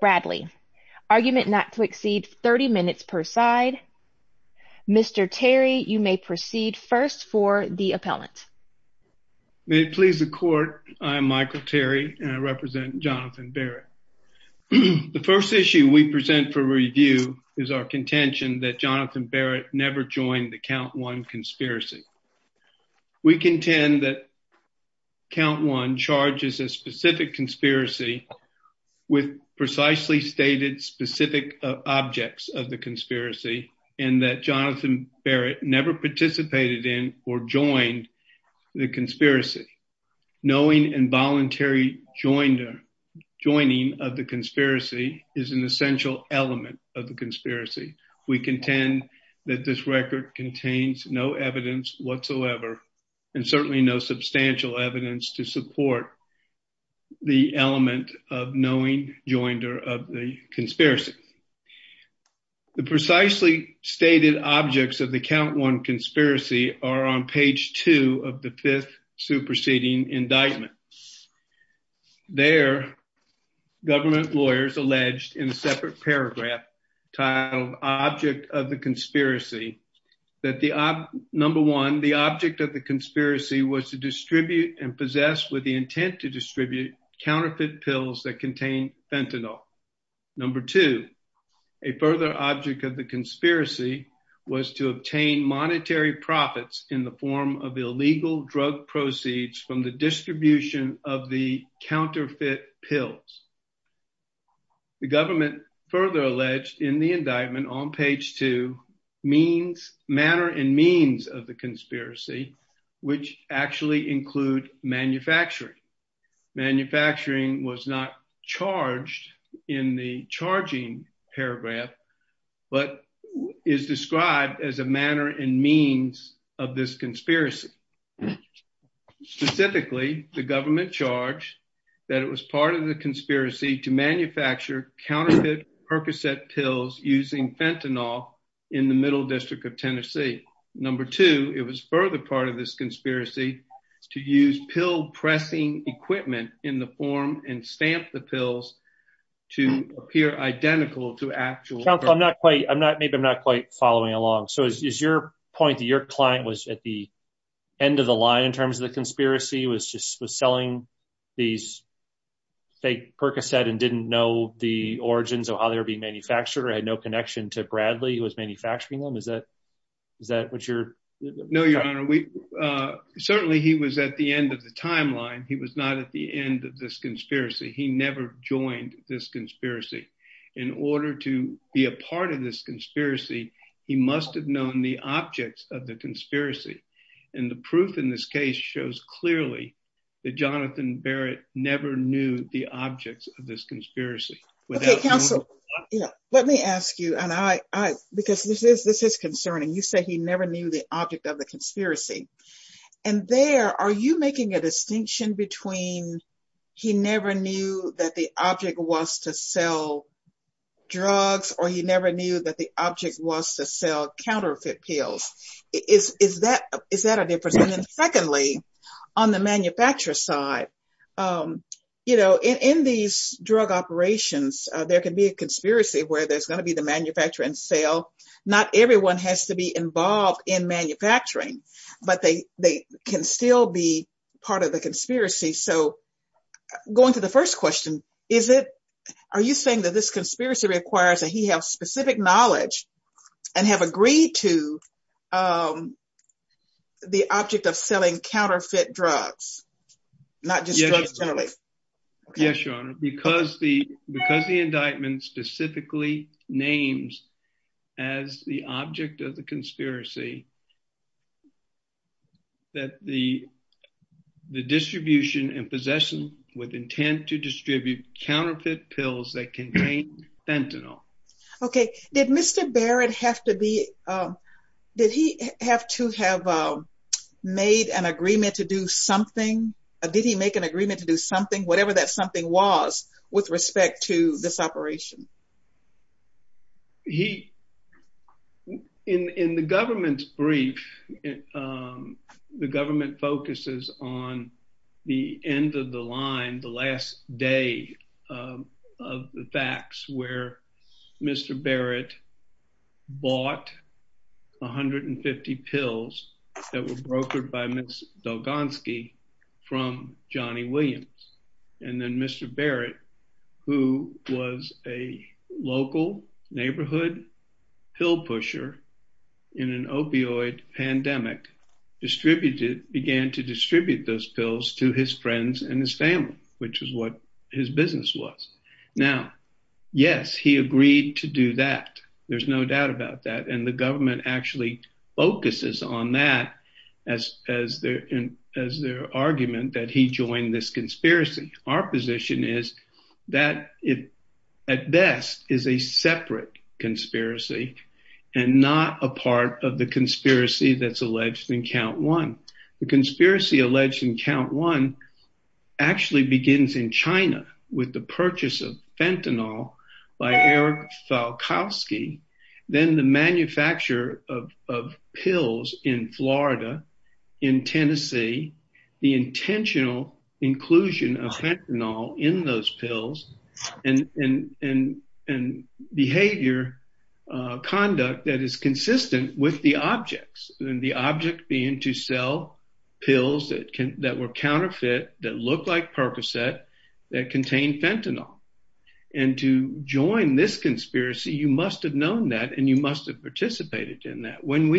Bradley argument not to exceed 30 minutes per side. Mr. Terry, you may proceed first for the appellant. May it please the court. I'm Michael Terry and I represent Jonathan Barrett. The issue we present for review is our contention that Jonathan Barrett never joined the count one conspiracy. We contend that count one charges a specific conspiracy with precisely stated specific objects of the conspiracy and that Jonathan Barrett never participated in or joined the conspiracy. Knowing involuntary joining of the conspiracy is an essential element of the conspiracy. We contend that this record contains no evidence whatsoever and certainly no substantial evidence to support the element of knowing joinder of the conspiracy. The precisely stated objects of the count one conspiracy are on page two of the fifth superseding indictment. There government lawyers alleged in a separate paragraph titled object of the conspiracy that the number one, the object of the conspiracy was to distribute and possess with the intent to distribute counterfeit pills that contained fentanyl. Number two, a further object of the conspiracy was to obtain monetary profits in the form of illegal drug proceeds from the distribution of the counterfeit pills. The government further alleged in the indictment on page two means manner and means of the conspiracy which actually include manufacturing. Manufacturing was not charged in the charging paragraph but is described as a manner and means of this conspiracy. Specifically, the government charged that it was part of the conspiracy to manufacture counterfeit Percocet pills using fentanyl in the middle district of Tennessee. Number two, it was further part of this conspiracy to use pill pressing equipment in the form and stamp the pills to appear identical to actual. I think I'm not quite following along. So is your point that your client was at the end of the line in terms of the conspiracy was just selling these fake Percocet and didn't know the origins of how they're being manufactured or had no connection to Bradley who was manufacturing them? Is that what you're... No, your honor. Certainly he was at the end of the timeline. He was not at the end of this conspiracy. He never joined this conspiracy. In order to be a part of this conspiracy, he must have known the objects of the conspiracy. And the proof in this case shows clearly that Jonathan Barrett never knew the objects of this conspiracy. Okay, counsel, let me ask you, because this is concerning. You say he never knew the object of the conspiracy. And there, are you making a distinction between he never knew that the object was to sell drugs or he never knew that the object was to sell counterfeit pills? Is that a difference? And then secondly, on the manufacturer side, in these drug operations, there can be a conspiracy where there's going to be the manufacturer and sale. Not everyone has to be involved in manufacturing, but they can still be part of the conspiracy. Going to the first question, is it... Are you saying that this conspiracy requires that he have specific knowledge and have agreed to the object of selling counterfeit drugs? Not just drugs generally. Yes, your honor. Because the indictment specifically names as the object of the conspiracy that the distribution and possession with intent to distribute counterfeit pills that contain fentanyl. Okay. Did Mr. Barrett have to be... Did he have to have made an agreement to do something? Did he make an agreement to do something, whatever that something was, with respect to this operation? He... In the government's brief, the government focuses on the end of the line, the last day of the facts where Mr. Barrett bought 150 pills that were brokered by Ms. Belgonski from Johnny Williams. And then Mr. Barrett, who was a local neighborhood pill pusher in an opioid pandemic, distributed... Began to distribute those pills to his friends and his family, which is what his business was. Now, yes, he agreed to do that. There's no doubt about that. And the government actually focuses on that as their argument that he joined this conspiracy. Our position is that it at best is a separate conspiracy and not a part of the conspiracy that's alleged in count one. The conspiracy alleged in count one actually begins in China with the purchase of fentanyl by Eric Falkowski, then the manufacture of pills in Florida, in Tennessee, the intentional inclusion of fentanyl in those pills, and behavior conduct that is consistent with the objects. And the object being to sell pills that were counterfeit, that looked like Percocet, that contained fentanyl. And to join this conspiracy, you must have known that and you must have participated in that. When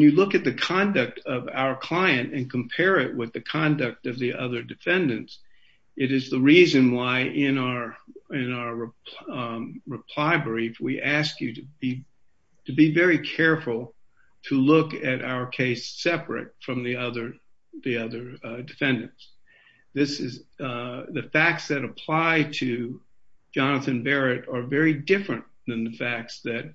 you look at the conduct of our client and compare it with the conduct of the other defendants, it is the reason why in our reply brief, we ask you to be very careful to look at our case separate from the other defendants. The facts that apply to Jonathan Barrett are very different than the facts that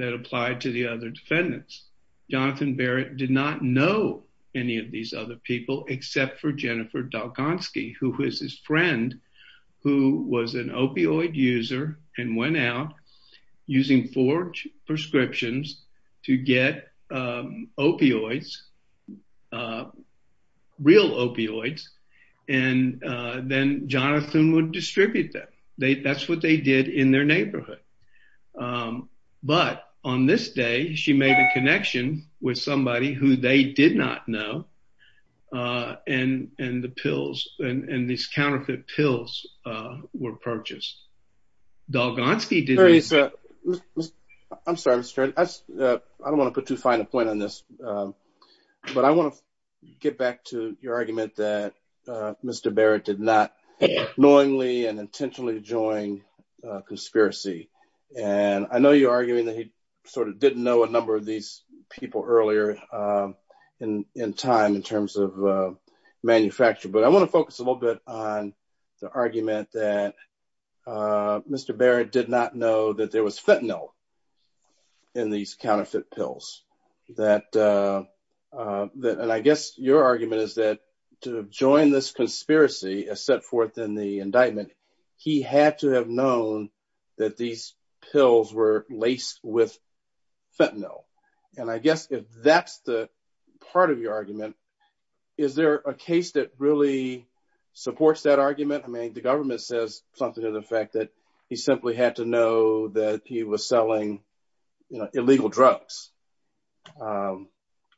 apply to the other defendants. Jonathan Barrett did not know any of these other people except for Jennifer Dalkonsky, who was his friend, who was an opioid user and went out using four prescriptions to get opioids, real opioids, and then Jonathan would distribute them. That's what they did in their neighborhood. But on this day, she made a connection with somebody who they did not know, and these counterfeit pills were purchased. I'm sorry. I don't want to put too fine a point on this, but I want to get back to your argument that Mr. Barrett did not knowingly and intentionally join a conspiracy. I know you're arguing that he didn't know a number of these people earlier in time in terms of manufacturing, but I want to focus a little bit on the argument that Mr. Barrett did not know that there was fentanyl in these counterfeit pills. I guess your argument is that to join this conspiracy as set forth in the indictment, he had to have known that these pills were laced with fentanyl. I guess if that's the part of your argument, is there a case that really supports that argument? The government says something to the effect that he simply had to know that he was selling illegal drugs.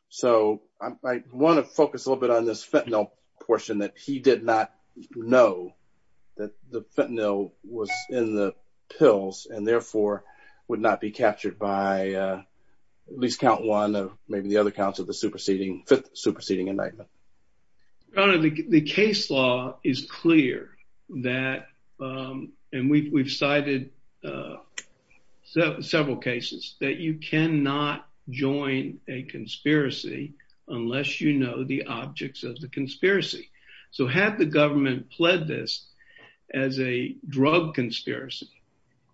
So I want to focus a little bit on this fentanyl portion that he did not know that the fentanyl was in the pills and therefore would not be captured by at least count one or maybe the other counts of the superseding indictment. The case law is clear that, and we've cited several cases, that you cannot join a conspiracy unless you know the objects of the conspiracy. So had the government pledged this as a drug conspiracy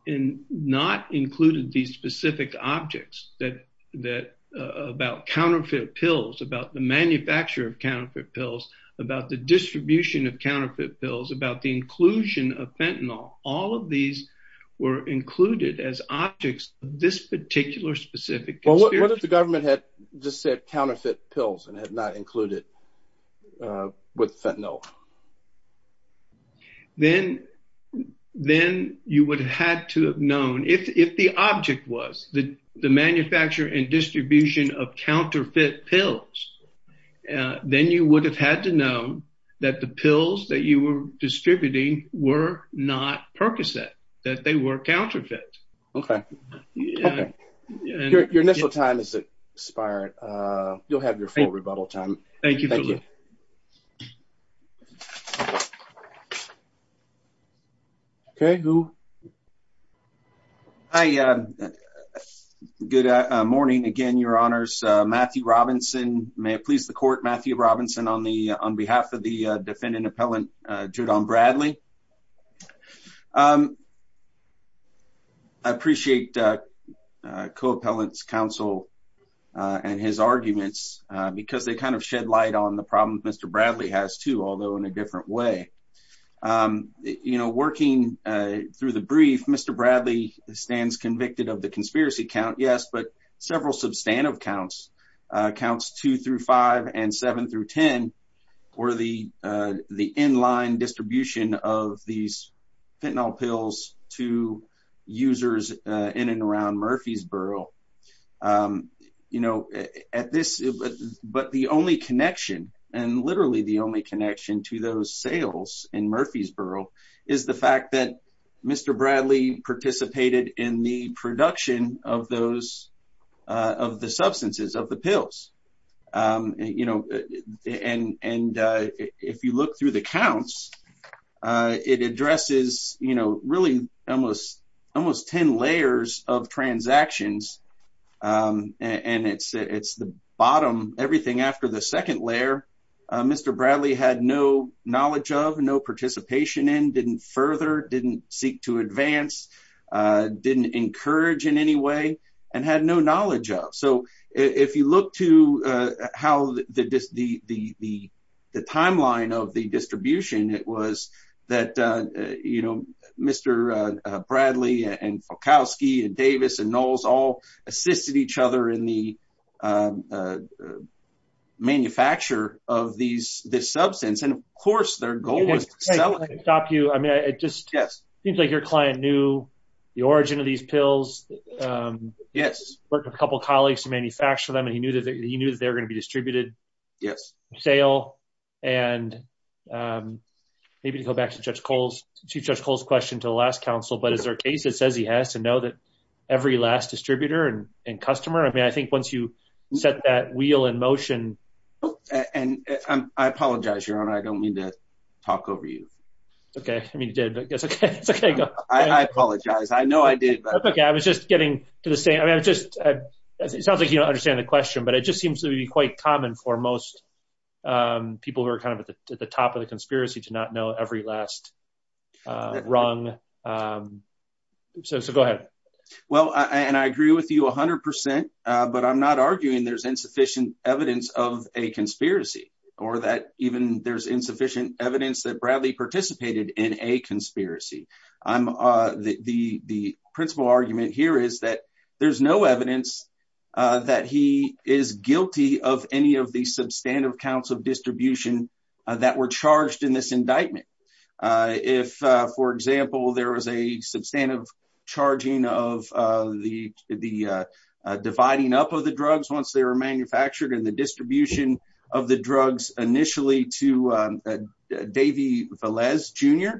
and not included these specific objects about counterfeit pills, about the manufacture of counterfeit pills, about the distribution of counterfeit pills, about the inclusion of fentanyl, all of these were included as objects of this particular specific conspiracy? What if the government had just said counterfeit pills and had not included with fentanyl? Then you would have had to have known, if the object was the manufacture and distribution of counterfeit pills, then you would have had to know that the pills that you were distributing were not Percocet, that they were counterfeit. Okay. Your initial time has expired. You'll have your full rebuttal time. Thank you. Okay, who? Hi. Good morning again, Your Honors. Matthew Robinson. May it please the court, Matthew Robinson on behalf of the defendant appellant, Judon Bradley. I appreciate the co-appellant's counsel and his arguments because they kind of shed light on the problems Mr. Bradley has too, although in a different way. You know, working through the brief, Mr. Bradley stands convicted of the conspiracy count, yes, but several substantive counts, counts 2 through 5 and 7 through 10, for the in-line distribution of these fentanyl pills to users in and around Murfreesboro. You know, at this, but the only connection and literally the only connection to those sales in Murfreesboro is the fact that Mr. Bradley participated in the production of those, of the substances, of the pills. You know, and if you look through the counts, it addresses, you know, really almost 10 layers of transactions, and it's the bottom, everything after the second layer, Mr. Bradley had no knowledge of, no participation in, didn't further, didn't seek to advance, didn't encourage in any way, and had no knowledge of. So, if you look to how the timeline of the distribution, it was that, you know, Mr. Bradley and Kalkowski and Davis and Knowles all assisted each other in the manufacture of this substance, and of course their goal was to sell it. I can stop you. I mean, it just seems like your client knew the origin of these pills. Yes. Worked with a couple colleagues to manufacture them, and he knew that they were going to be distributed. Yes. For sale, and maybe to go back to Judge Cole's, to Judge Cole's question to the last counsel, but is there a case that says he has to know that every last distributor and customer, I mean, I think once you set that wheel in motion. And I apologize, Your Honor, I don't mean to talk over you. Okay. I mean, you did, but it's okay. I apologize. I know I did. That's okay. I was just getting to the same, I mean, I just, it sounds like you don't understand the question, but it just seems to be quite common for most people who are kind of at the top of the conspiracy to not know every last rung. So, go ahead. Well, and I agree with you 100%, but I'm not arguing there's insufficient evidence of a conspiracy, or that even there's insufficient evidence that Bradley participated in a conspiracy. The principal argument here is that there's no evidence that he is guilty of any of the substantive counts of distribution that were charged in this indictment. If, for example, there was a substantive charging of the dividing up of the drugs once they were manufactured and the distribution of the drugs initially to Davy Velez Jr.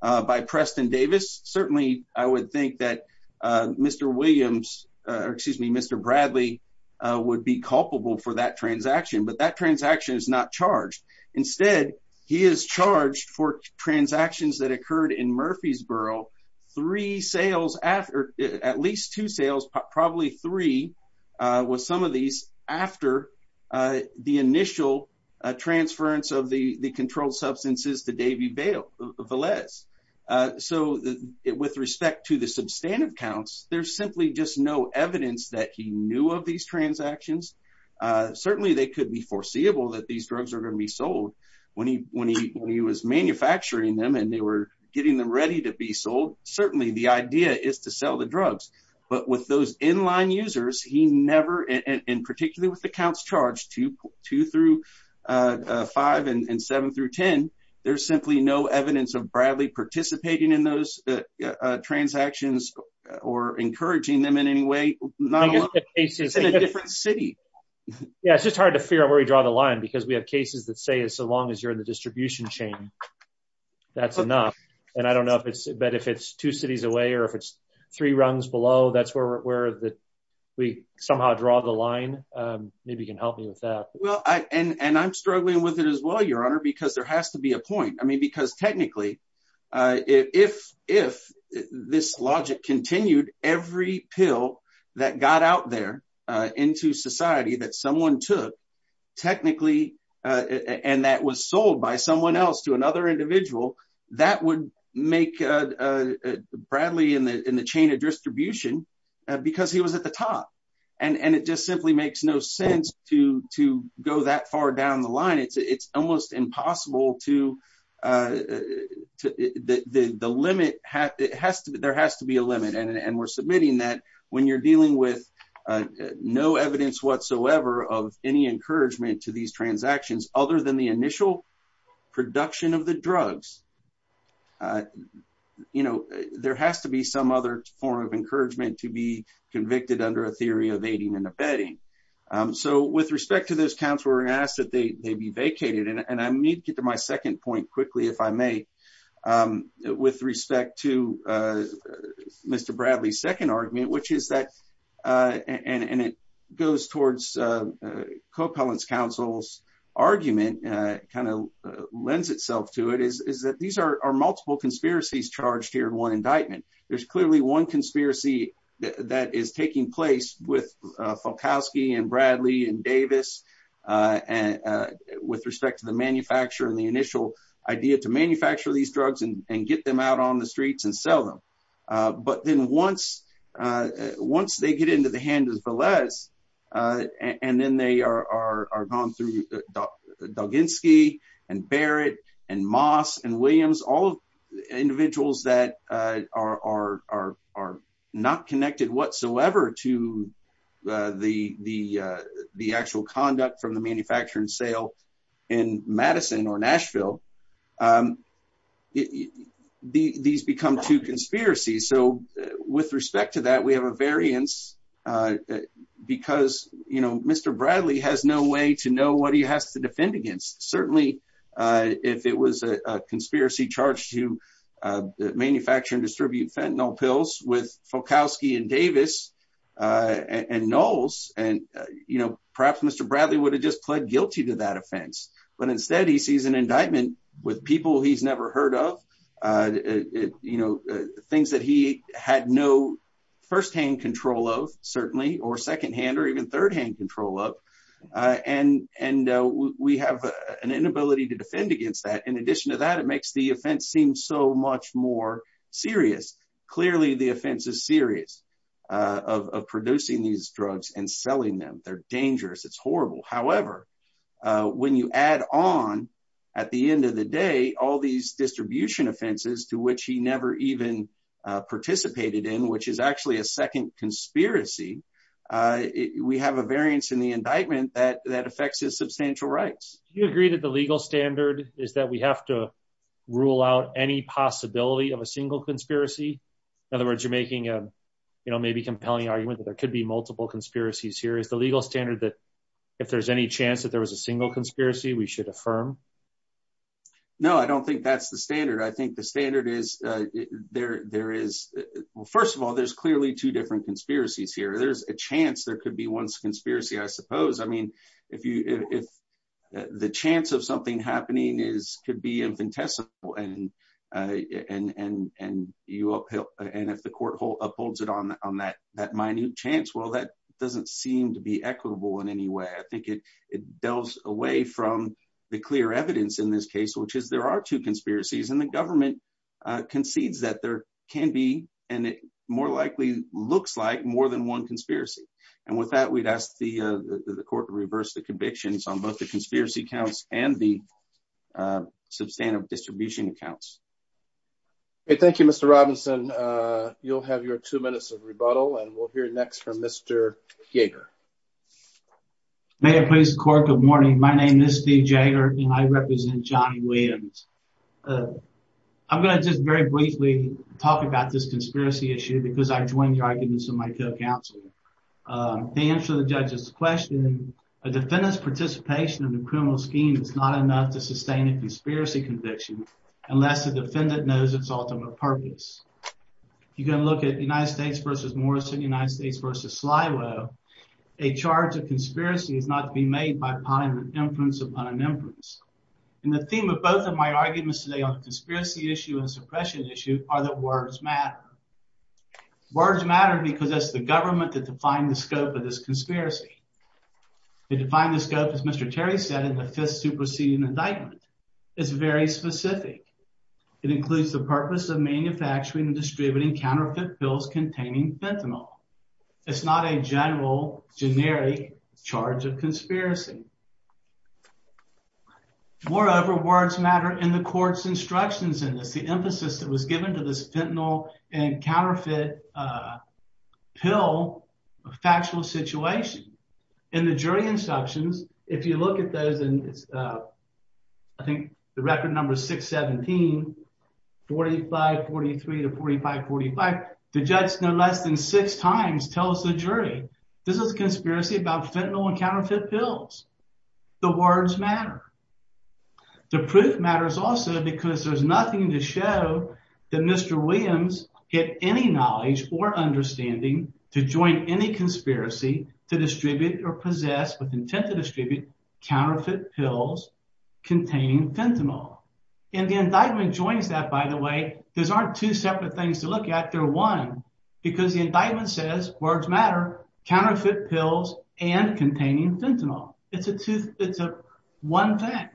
by Preston Davis, certainly I would think that Mr. Williams, or excuse me, Mr. Bradley would be culpable for that transaction, but that transaction is not charged. Instead, he is charged for transactions that occurred in Murfreesboro, three sales, or at least two sales, probably three with some of these after the initial transference of the controlled substances to Davy Velez. So, with respect to the substantive counts, there's simply just no evidence that he knew of these transactions. Certainly, they could be foreseeable that these drugs are going to be sold. When he was manufacturing them and they were getting them ready to be sold, certainly the idea is to sell the drugs. But with those in-line users, he never, and particularly with the counts charged, two through five and seven through ten, there's simply no evidence of Bradley participating in those transactions or encouraging them in any way. In a different city. Yeah, it's just hard to figure out where we draw the line because we have cases that say as long as you're in the distribution chain, that's enough. And I don't know, but if it's two cities away or if it's three rungs below, that's where we somehow draw the line. Maybe you can help me with that. And I'm struggling with it as well, Your Honor, because there has to be a point. I mean, because technically, if this logic continued, every pill that got out there into society that someone took, technically, and that was sold by someone else to another individual, that would make Bradley in the chain of distribution because he was at the top. And it just simply makes no sense to go that far down the line. It's almost impossible to, the limit, there has to be a limit. And we're submitting that when you're dealing with no evidence whatsoever of any encouragement to these transactions other than the initial production of the drugs. You know, there has to be some other form of encouragement to be convicted under a theory of aiding and abetting. So, with respect to this, counsel, we're going to ask that they be vacated. And I need to get to my second point quickly, if I may, with respect to Mr. Bradley's second argument, which is that, and it goes towards co-parlance counsel's argument, kind of lends itself to it, is that these are multiple conspiracies charged here in one indictment. There's clearly one conspiracy that is taking place with Falkowski and Bradley and Davis with respect to the manufacturer and the initial idea to manufacture these drugs and get them out on the streets and sell them. But then once they get into the hands of Velez, and then they are gone through Duginsky and Barrett and Moss and Williams, all individuals that are not connected whatsoever to the actual conduct from the manufacturing sale in Madison or Nashville, these become two conspiracies. So, with respect to that, we have a variance because, you know, Mr. Bradley has no way to know what he has to defend against. Certainly, if it was a conspiracy charged to manufacture and distribute fentanyl pills with Falkowski and Davis and Knowles, and, you know, perhaps Mr. Bradley would have just pled guilty to that offense. But instead, he sees an indictment with people he's never heard of, you know, things that he had no first-hand control of, certainly, or second-hand or even third-hand control of, and we have an inability to defend against that. In addition to that, it makes the offense seem so much more serious. Clearly, the offense is serious of producing these drugs and selling them. They're dangerous. It's horrible. However, when you add on, at the end of the day, all these distribution offenses to which he never even participated in, which is actually a second conspiracy, we have a variance in the indictment that affects his substantial rights. Do you agree that the legal standard is that we have to rule out any possibility of a single conspiracy? In other words, you're making a, you know, maybe compelling argument that there could be multiple conspiracies here. Is the legal standard that if there's any chance that there was a single conspiracy, we should affirm? No, I don't think that's the standard. I think the standard is there is – well, first of all, there's clearly two different conspiracies here. There's a chance there could be one conspiracy, I suppose. I mean, if you – if the chance of something happening is to be infinitesimal and you – and if the court upholds it on that minute chance, well, that doesn't seem to be equitable in any way. I think it delves away from the clear evidence in this case, which is there are two conspiracies. And the government concedes that there can be and it more likely looks like more than one conspiracy. And with that, we'd ask the court to reverse the convictions on both the conspiracy counts and the substantive distribution counts. Okay, thank you, Mr. Robinson. You'll have your two minutes of rebuttal, and we'll hear next from Mr. Jaeger. May it please the court, good morning. My name is Steve Jaeger, and I represent Johnny Williams. I'm going to just very briefly talk about this conspiracy issue because I joined arguments in my jail counsel. The answer to the judge's question, a defendant's participation in the criminal scheme is not enough to sustain a conspiracy conviction unless the defendant knows its ultimate purpose. You can look at United States v. Morrison, United States v. Sliwo. A charge of conspiracy must be made by an inference upon inference. And the theme of both of my arguments today on the conspiracy issue and suppression issue are that words matter. Words matter because it's the government that define the scope of this conspiracy. They define the scope, as Mr. Terry said, as a fifth superseding indictment. It's very specific. It includes the purpose of manufacturing and distributing counterfeit pills containing fentanyl. It's not a general, generic charge of conspiracy. Moreover, words matter and the court's instructions in it, the emphasis that was given to this fentanyl and counterfeit pill factual situation. In the jury instructions, if you look at those in, I think, the record number 617, 4543 to 4545, the judge has been elected six times to tell us the jury. This is a conspiracy about fentanyl and counterfeit pills. The words matter. The proof matters also because there's nothing to show that Mr. Williams had any knowledge or understanding to join any conspiracy to distribute or possess with intent to distribute counterfeit pills containing fentanyl. And the indictment joins that, by the way. These aren't two separate things to look at. They're one, because the indictment says, words matter, counterfeit pills and containing fentanyl. It's a one thing.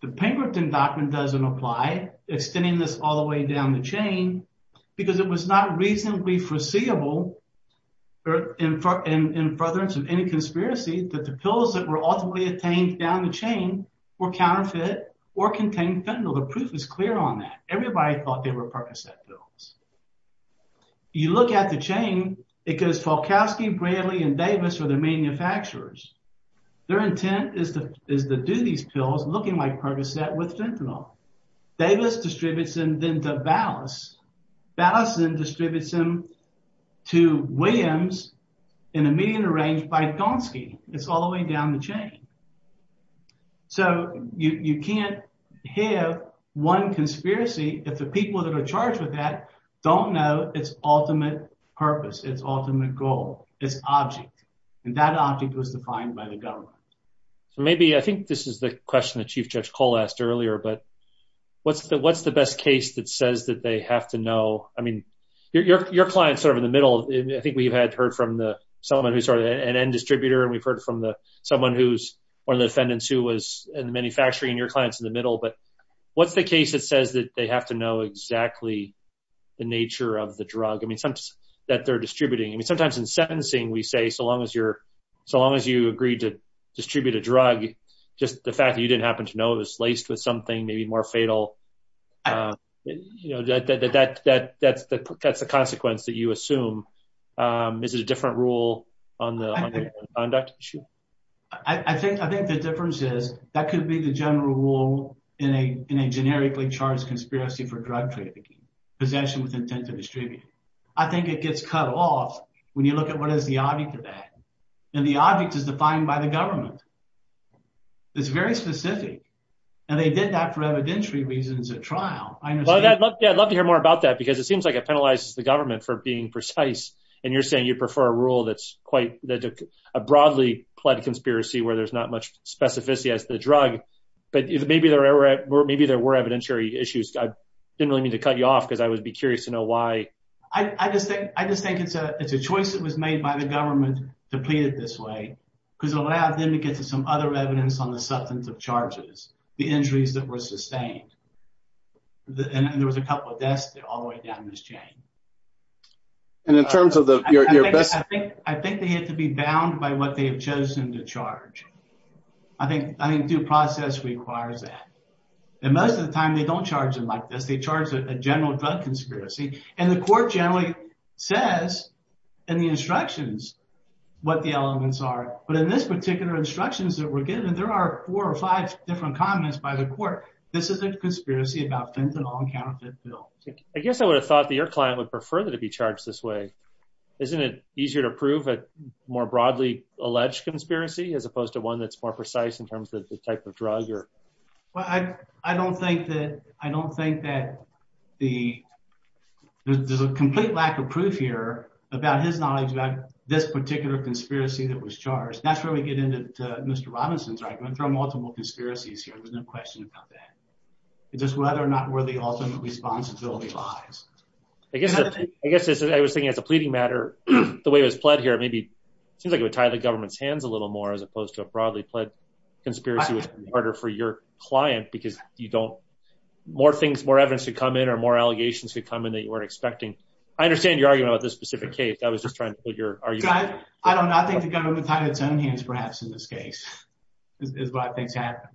The Pinkerton indictment doesn't apply, extending this all the way down the chain, because it was not reasonably foreseeable in preference of any conspiracy that the pills that were ultimately obtained down the chain were counterfeit or contained fentanyl. The proof is clear on that. Everybody thought they were Percocet pills. You look at the chain, it goes Falkowski, Bradley, and Davis were the manufacturers. Their intent is to do these pills looking like Percocet with fentanyl. Davis distributes them then to Ballas. Ballas then distributes them to Williams in a manner arranged by Thomski. It's all the way down the chain. So you can't have one conspiracy if the people that are charged with that don't know its ultimate purpose, its ultimate goal, its object. And that object was defined by the government. I think this is the question that Chief Judge Cole asked earlier, but what's the best case that says that they have to know? I mean, your client's sort of in the middle. I think we've heard from someone who's an end distributor, and we've heard from someone who's one of the defendants who was in the manufacturing, and your client's in the middle. But what's the case that says that they have to know exactly the nature of the drug that they're distributing? I mean, sometimes in sentencing we say so long as you agreed to distribute a drug, just the fact that you didn't happen to know it is laced with something maybe more fatal. That's the consequence that you assume. Is it a different rule on the conduct issue? I think the difference is that could be the general rule in a generically charged conspiracy for drug trafficking, possession with intent to distribute. I think it gets cut off when you look at what is the object of that. And the object is defined by the government. It's very specific. And they did that for evidentiary reasons at trial. I understand. Yeah, I'd love to hear more about that, because it seems like it penalizes the government for being precise, and you're saying you prefer a rule that's quite a broadly pled conspiracy where there's not much specificity as to the drug. But maybe there were evidentiary issues. I didn't really mean to cut you off, but I would be curious to know why. I just think it's a choice that was made by the government to plead it this way, because it allowed them to get to some other evidence on the substance of charges, the injuries that were sustained. And there was a couple of deaths all the way down this chain. And in terms of the... I think they had to be bound by what they had chosen to charge. I think due process requires that. And most of the time, they don't charge them like this. They charge a general drug conspiracy. And the court generally says in the instructions what the elements are. But in this particular instructions that we're given, there are four or five different comments by the court. This is a conspiracy about fentanyl and counterfeit fuel. I guess I would have thought that your client would prefer to be charged this way. Isn't it easier to prove a more broadly alleged conspiracy as opposed to one that's more precise in terms of the type of drug? Well, I don't think that the... There's a complete lack of proof here about his knowledge about this particular conspiracy that was charged. That's where we get into Mr. Robinson's argument. There are multiple conspiracies here. There's no question about that. It's just whether or not where the ultimate responsibility lies. I guess I was thinking of the pleading matter. The way it was pled here, it seems like it would tie the government's hands a little more as opposed to a broadly pled conspiracy. It would be harder for your client because more evidence could come in or more allegations could come in that you weren't expecting. I understand your argument about this specific case. I was just trying to figure... I don't know. I think the government tied its own hands perhaps in this case is what I think happened.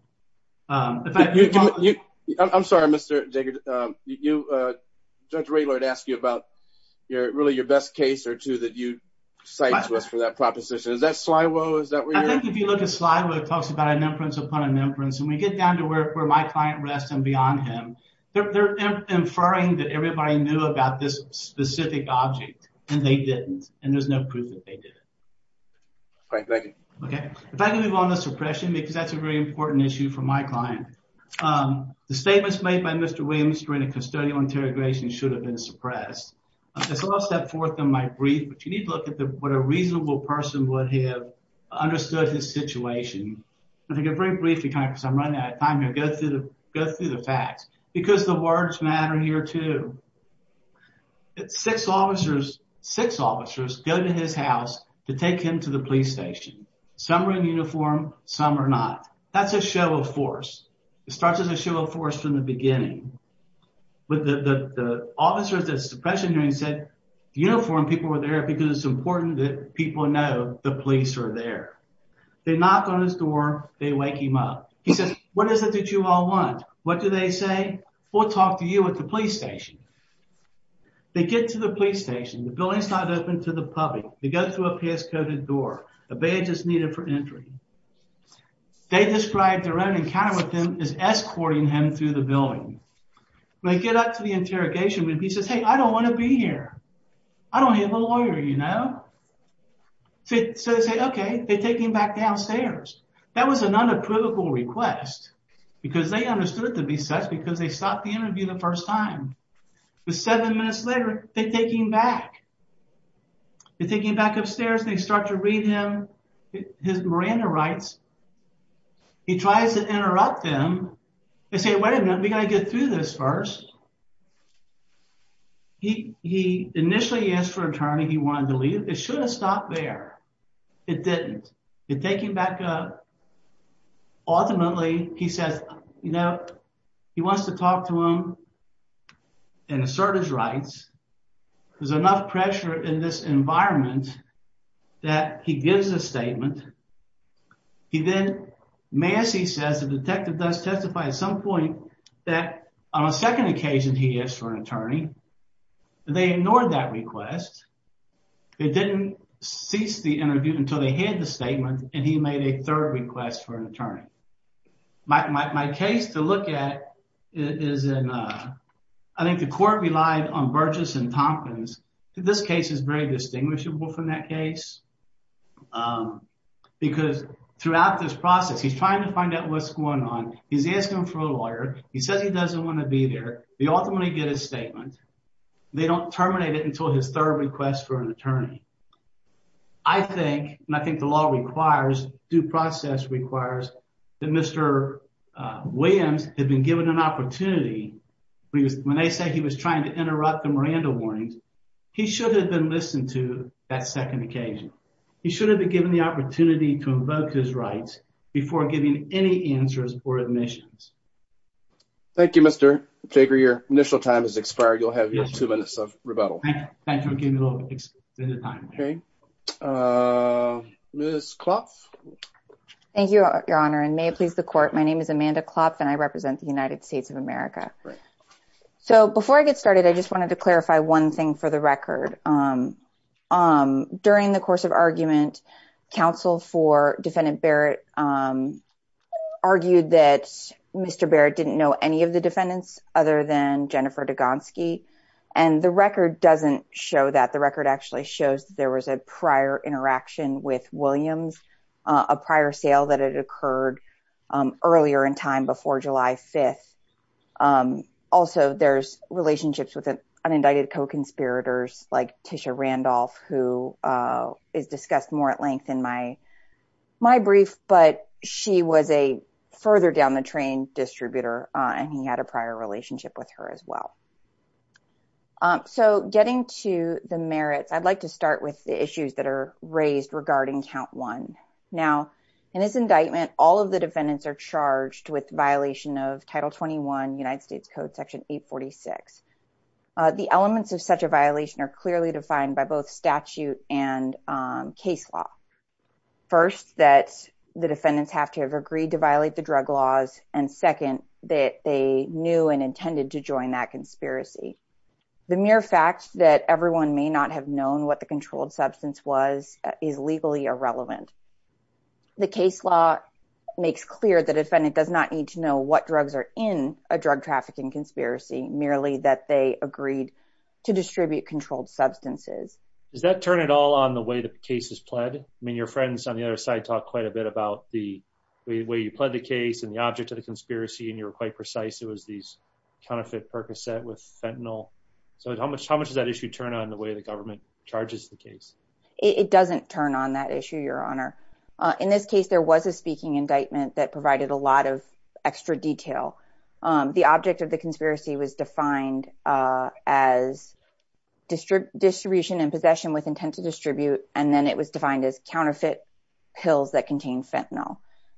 I'm sorry, Mr. Diggins. Judge Raylard asked you about really your best case or two that you cite for that proposition. Is that Sliwo? Is that where you're at? I think if you look at Sliwo, it talks about an inference upon an inference. When we get down to where my client rests and beyond him, they're inferring that everybody knew about this specific object, and they didn't, and there's no proof that they did. All right. Thank you. If I can move on to suppression because that's a very important issue for my client. The statements made by Mr. Williams during a custodial interrogation should have been suppressed. If I'll step forth on my brief, but you need to look at what a reasonable person would have understood his situation. I think it's very brief because I'm running out of time here. Go through the facts because the words matter here too. Six officers go to his house to take him to the police station. Some are in uniform. Some are not. That's a show of force. It starts as a show of force from the beginning. The officer of the suppression unit said, uniform people are there because it's important that people know the police are there. They knock on his door. They wake him up. He says, what is it that you all want? What do they say? We'll talk to you at the police station. They get to the police station. The building's not open to the public. They go through a pass-coded door. A badge is needed for entry. They describe their own encounter with him as escorting him to the building. They get up to the interrogation room. He says, hey, I don't want to be here. I don't have a lawyer, you know. So they say, okay. They take him back downstairs. That was an unapprovable request because they understood to be such because they stopped the interview the first time. But seven minutes later, they take him back. They take him back upstairs. They start to read him. His Miranda writes. He tries to interrupt them and say, wait a minute. We've got to get through this first. He initially asked for a term if he wanted to leave. It should have stopped there. It didn't. They take him back up. Ultimately, he said, you know, he wants to talk to him and assert his rights. There's enough pressure in this environment that he gives a statement. He then, Massey says, the detective does testify at some point that on a second occasion he asked for an attorney. They ignored that request. They didn't cease the interview until they had the statement, and he made a third request for an attorney. My case to look at is I think the court relies on Burgess and Tompkins. This case is very distinguishable from that case because throughout this process, he's trying to find out what's going on. He's asking for a lawyer. He said he doesn't want to be there. He ultimately did a statement. They don't terminate it until his third request for an attorney. I think, and I think the law requires, due process requires, that Mr. Williams had been given an opportunity. When they say he was trying to interrupt the Miranda warning, he should have been listened to that second occasion. He should have been given the opportunity to invoke his rights before giving any answers or admissions. Thank you, Mr. Jager. Your initial time has expired. You'll have two minutes of rebuttal. Thank you for giving me a little bit of time. Okay. Liz Klopf? Thank you, Your Honor, and may it please the court, my name is Amanda Klopf, and I represent the United States of America. So before I get started, I just wanted to clarify one thing for the record. During the course of argument, counsel for defendant Barrett argued that Mr. Barrett didn't know any of the defendants other than Jennifer Degonski. And the record doesn't show that. The record actually shows there was a prior interaction with Williams, a prior sale that had occurred earlier in time before July 5th. Also, there's relationships with unindicted co-conspirators like Tisha Randolph, who is discussed more at length in my brief. But she was a further down the train distributor, and he had a prior relationship with her as well. So getting to the merits, I'd like to start with the issues that are raised regarding count one. Now, in this indictment, all of the defendants are charged with violation of Title 21 United States Code Section 846. The elements of such a violation are clearly defined by both statute and case law. First, that the defendants have to have agreed to violate the drug laws, and second, that they knew and intended to join that conspiracy. The mere fact that everyone may not have known what the controlled substance was is legally irrelevant. The case law makes clear the defendant does not need to know what drugs are in a drug trafficking conspiracy, merely that they agreed to distribute controlled substances. Does that turn it all on the way the case is pled? I mean, your friends on the other side talk quite a bit about the way you pled the case and the object of the conspiracy, and you're quite precise. It was these tonic-fed Percocet with fentanyl. So how much does that issue turn on the way the government charges the case? It doesn't turn on that issue, Your Honor. In this case, there was a speaking indictment that provided a lot of extra detail. The object of the conspiracy was defined as distribution and possession with intent to distribute, and then it was defined as counterfeit pills that contained fentanyl.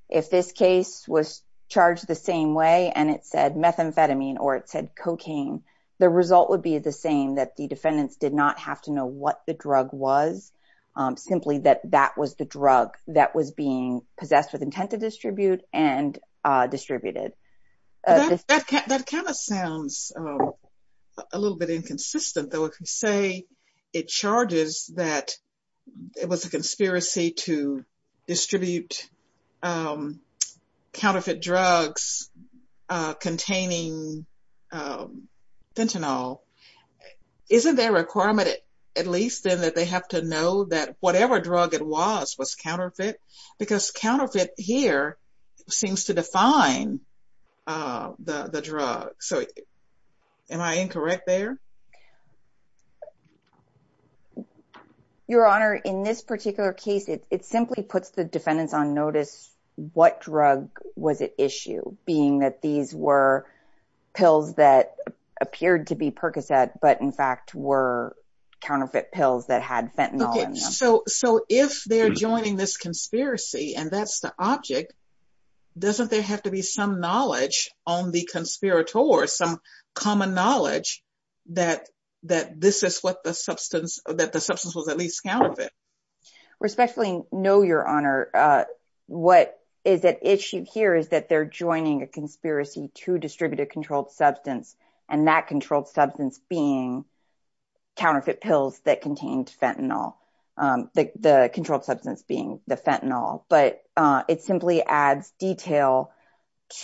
If this case was charged the same way and it said methamphetamine or it said cocaine, the result would be the same, that the defendants did not have to know what the drug was, simply that that was the drug that was being possessed with intent to distribute and distributed. That kind of sounds a little bit inconsistent, though. If you say it charges that it was a conspiracy to distribute counterfeit drugs containing fentanyl, isn't there a requirement at least then that they have to know that whatever drug it was was counterfeit? Because counterfeit here seems to define the drug. So am I incorrect there? Your Honor, in this particular case, it simply puts the defendants on notice what drug was at issue, being that these were pills that appeared to be Percocet, but in fact were counterfeit pills that had fentanyl in them. So if they're joining this conspiracy and that's the object, doesn't there have to be some knowledge on the conspirator, some common knowledge that this is what the substance, that the substance was at least counterfeit? Respectfully, no, Your Honor. What is at issue here is that they're joining a conspiracy to distribute a controlled substance and that controlled substance being counterfeit pills that contained fentanyl. The controlled substance being the fentanyl, but it simply adds detail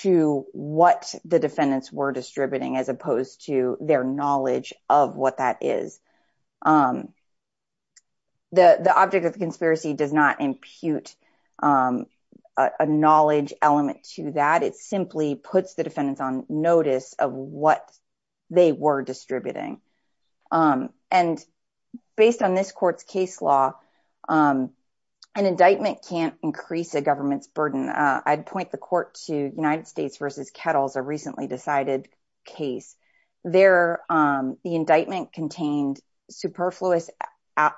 to what the defendants were distributing as opposed to their knowledge of what that is. The object of the conspiracy does not impute a knowledge element to that. It simply puts the defendants on notice of what they were distributing. And based on this court's case law, an indictment can't increase a government's burden. I'd point the court to United States v. Kettles, a recently decided case. The indictment contained superfluous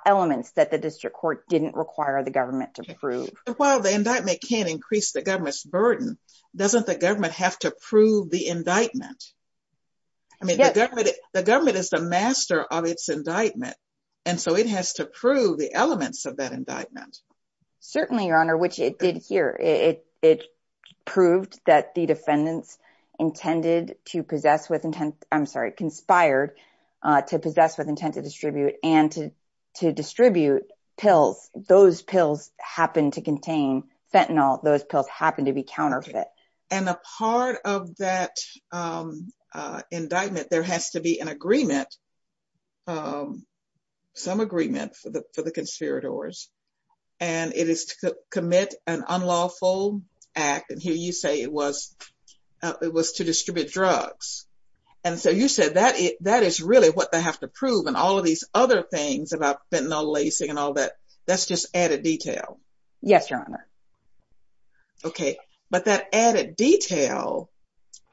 elements that the district court didn't require the government to prove. While the indictment can't increase the government's burden, doesn't the government have to prove the indictment? The government is the master of its indictment, and so it has to prove the elements of that indictment. Certainly, Your Honor, which it did here. It proved that the defendants conspired to possess with intent to distribute and to distribute pills. Those pills happened to contain fentanyl. Those pills happened to be counterfeit. And a part of that indictment, there has to be an agreement, some agreement for the conspirators, and it is to commit an unlawful act, and here you say it was to distribute drugs. And so you said that is really what they have to prove and all of these other things about fentanyl lacing and all that, that's just added detail. Yes, Your Honor. Okay, but that added detail,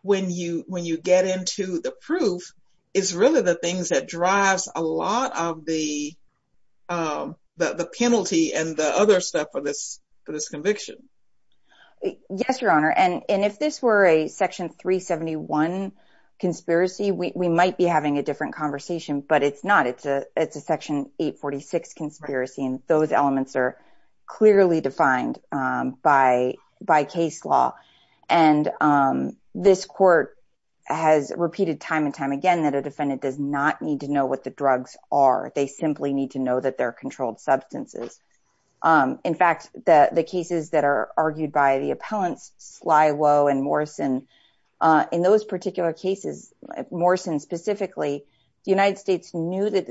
when you get into the proof, is really the things that drives a lot of the penalty and the other stuff for this conviction. Yes, Your Honor, and if this were a Section 371 conspiracy, we might be having a different conversation, but it's not. It's a Section 846 conspiracy, and those elements are clearly defined by case law. And this court has repeated time and time again that a defendant does not need to know what the drugs are. They simply need to know that they're controlled substances. In fact, the cases that are argued by the appellants, Flywo and Morrison, in those particular cases, Morrison specifically, the United States proved that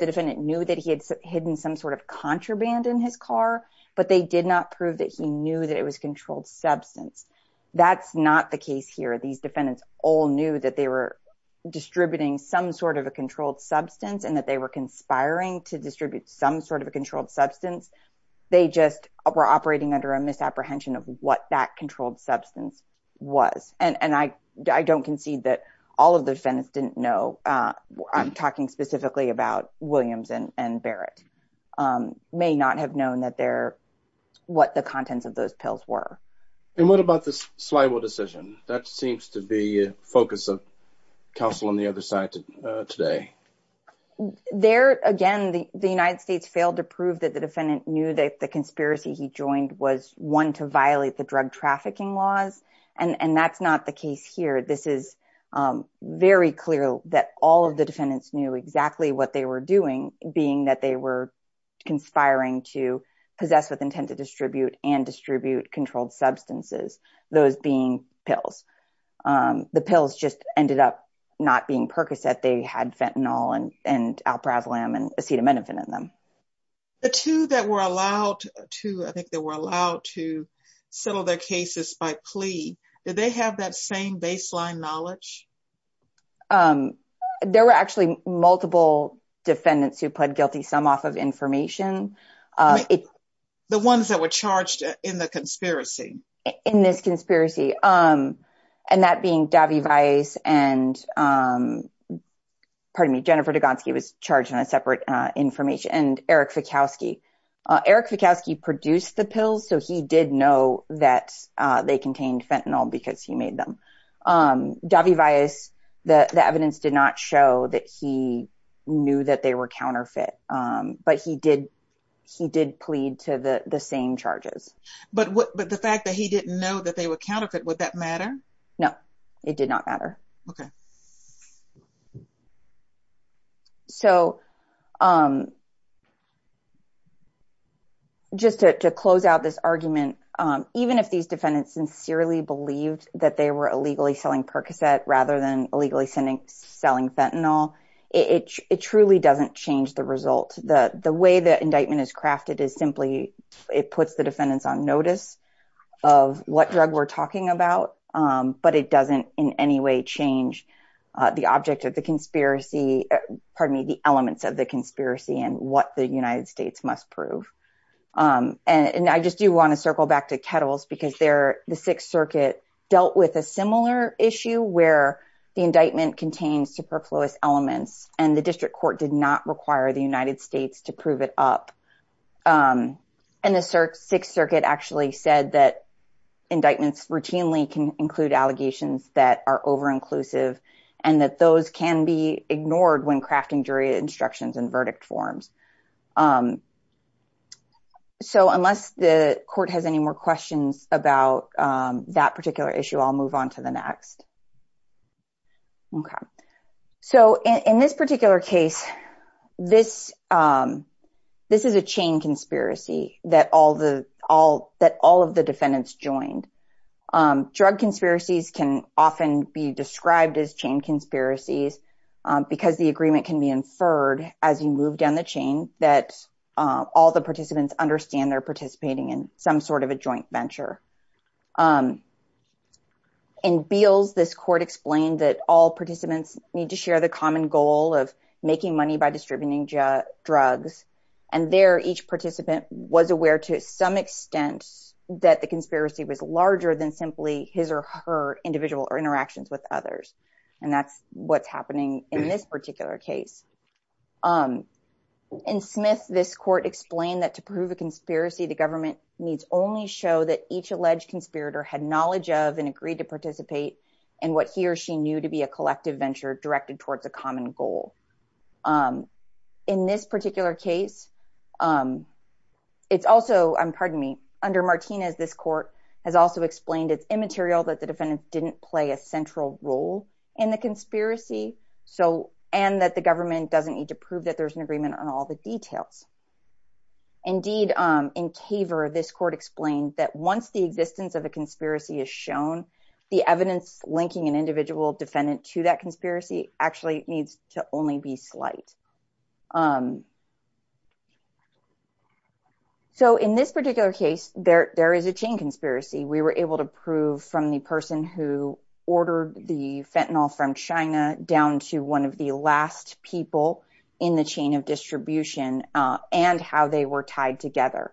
the defendant knew that he had hidden some sort of contraband in his car, but they did not prove that he knew that it was controlled substance. That's not the case here. These defendants all knew that they were distributing some sort of a controlled substance and that they were conspiring to distribute some sort of a controlled substance. They just were operating under a misapprehension of what that controlled substance was, and I don't concede that all of the defendants didn't know. I'm talking specifically about Williams and Barrett. They may not have known what the contents of those pills were. What about the Flywo decision? That seems to be the focus of counsel on the other side today. There, again, the United States failed to prove that the defendant knew that the conspiracy he joined was one to violate the drug trafficking laws, and that's not the case here. This is very clear that all of the defendants knew exactly what they were doing, being that they were conspiring to possess with intent to distribute and distribute controlled substances, those being pills. The pills just ended up not being Percocet. They had Fentanyl and Alpravlim and acetaminophen in them. The two that were allowed to settle their cases by plea, did they have that same baseline knowledge? There were actually multiple defendants who pled guilty, some off of information. The ones that were charged in the conspiracy? In this conspiracy, and that being Davy Vias and, pardon me, Jennifer Degonski was charged in a separate information, and Eric Fikowski. Eric Fikowski produced the pills, so he did know that they contained Fentanyl because he made them. Davy Vias, the evidence did not show that he knew that they were counterfeit, but he did plead to the same charges. But the fact that he didn't know that they were counterfeit, would that matter? No, it did not matter. Okay. So, just to close out this argument, even if these defendants sincerely believed that they were illegally selling Percocet rather than illegally selling Fentanyl, it truly doesn't change the results. The way that indictment is crafted is simply, it puts the defendants on notice of what drug we're talking about, but it doesn't in any way change the object of the conspiracy, pardon me, the elements of the conspiracy and what the United States must prove. And I just do want to circle back to Kettles because the Sixth Circuit dealt with a similar issue where the indictment contains superfluous elements, and the district court did not require the United States to prove it up. And the Sixth Circuit actually said that indictments routinely can include allegations that are over-inclusive, and that those can be ignored when crafting jury instructions and verdict forms. So, unless the court has any more questions about that particular issue, I'll move on to the next. Okay. So, in this particular case, this is a chain conspiracy that all of the defendants joined. Drug conspiracies can often be described as chain conspiracies because the agreement can be inferred as you move down the chain that all the participants understand they're participating in some sort of a joint venture. In Beals, this court explained that all participants need to share the common goal of making money by distributing drugs. And there, each participant was aware to some extent that the conspiracy was larger than simply his or her individual interactions with others. And that's what's happening in this particular case. In Smith, this court explained that to prove a conspiracy, the government needs only show that each alleged conspirator had knowledge of and agreed to participate in what he or she knew to be a collective venture directed towards a common goal. In this particular case, it's also, pardon me, under Martinez, this court has also explained it's immaterial that the defendants didn't play a central role in the conspiracy, and that the government doesn't need to prove that there's an agreement on all the details. Indeed, in Caver, this court explained that once the existence of a conspiracy is shown, the evidence linking an individual defendant to that conspiracy actually needs to only be slight. So in this particular case, there is a chain conspiracy. We were able to prove from the person who ordered the fentanyl from China down to one of the last people in the chain of distribution and how they were tied together.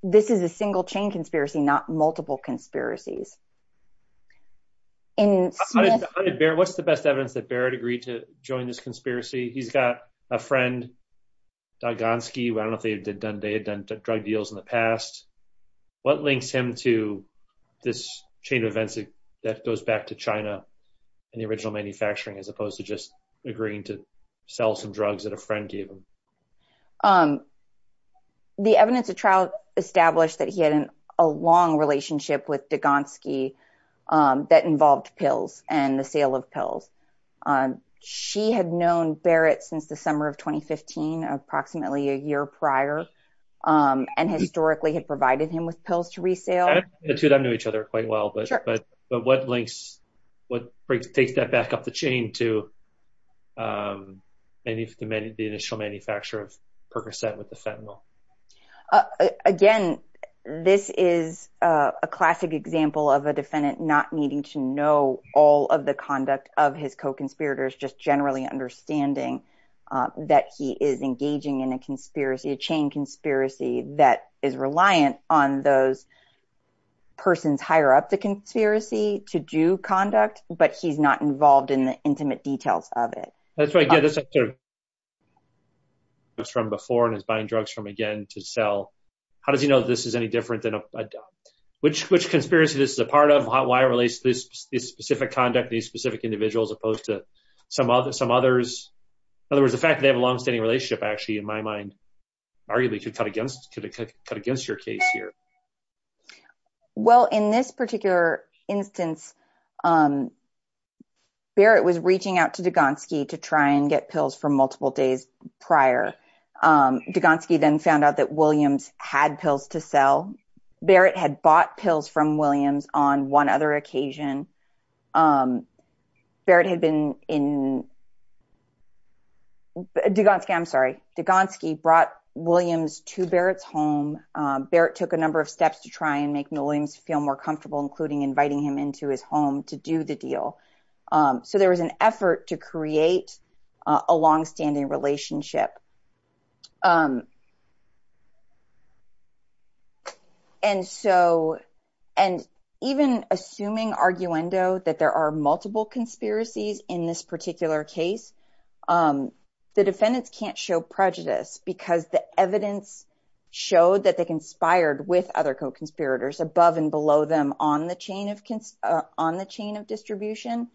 This is a single chain conspiracy, not multiple conspiracies. What's the best evidence that Barrett agreed to join this conspiracy? He's got a friend, Dogonsky, who I don't think had done drug deals in the past. What links him to this chain of events that goes back to China and the original manufacturing as opposed to just agreeing to sell some drugs that a friend gave him? The evidence of trial established that he had a long relationship with Dogonsky that involved pills and the sale of pills. She had known Barrett since the summer of 2015, approximately a year prior, and historically had provided him with pills to resale. The two don't know each other quite well, but what links would take that back up the chain to the initial manufacture of Percocet with the fentanyl? Again, this is a classic example of a defendant not needing to know all of the conduct of his co-conspirators, just generally understanding that he is engaging in a chain conspiracy that is reliant on those persons higher up the conspiracy to do conduct, but he's not involved in the intimate details of it. That's right, yeah, this is after he's done this before and is buying drugs from again to sell. How does he know this is any different than a dump? Which conspiracy is this a part of? Why relates this specific conduct to these specific individuals as opposed to some others? In other words, the fact that they have a longstanding relationship, actually, in my mind, arguably could cut against your case here. Well, in this particular instance, Barrett was reaching out to Dugansky to try and get pills for multiple days prior. Dugansky then found out that Williams had pills to sell. Barrett had bought pills from Williams on one other occasion. Barrett had been in, Dugansky, I'm sorry, Dugansky brought Williams to Barrett's home. Barrett took a number of steps to try and make Williams feel more comfortable, including inviting him into his home to do the deal. So there was an effort to create a longstanding relationship. And so and even assuming arguendo that there are multiple conspiracies in this particular case, the defendants can't show prejudice because the evidence showed that they conspired with other co-conspirators above and below them on the chain of distribution.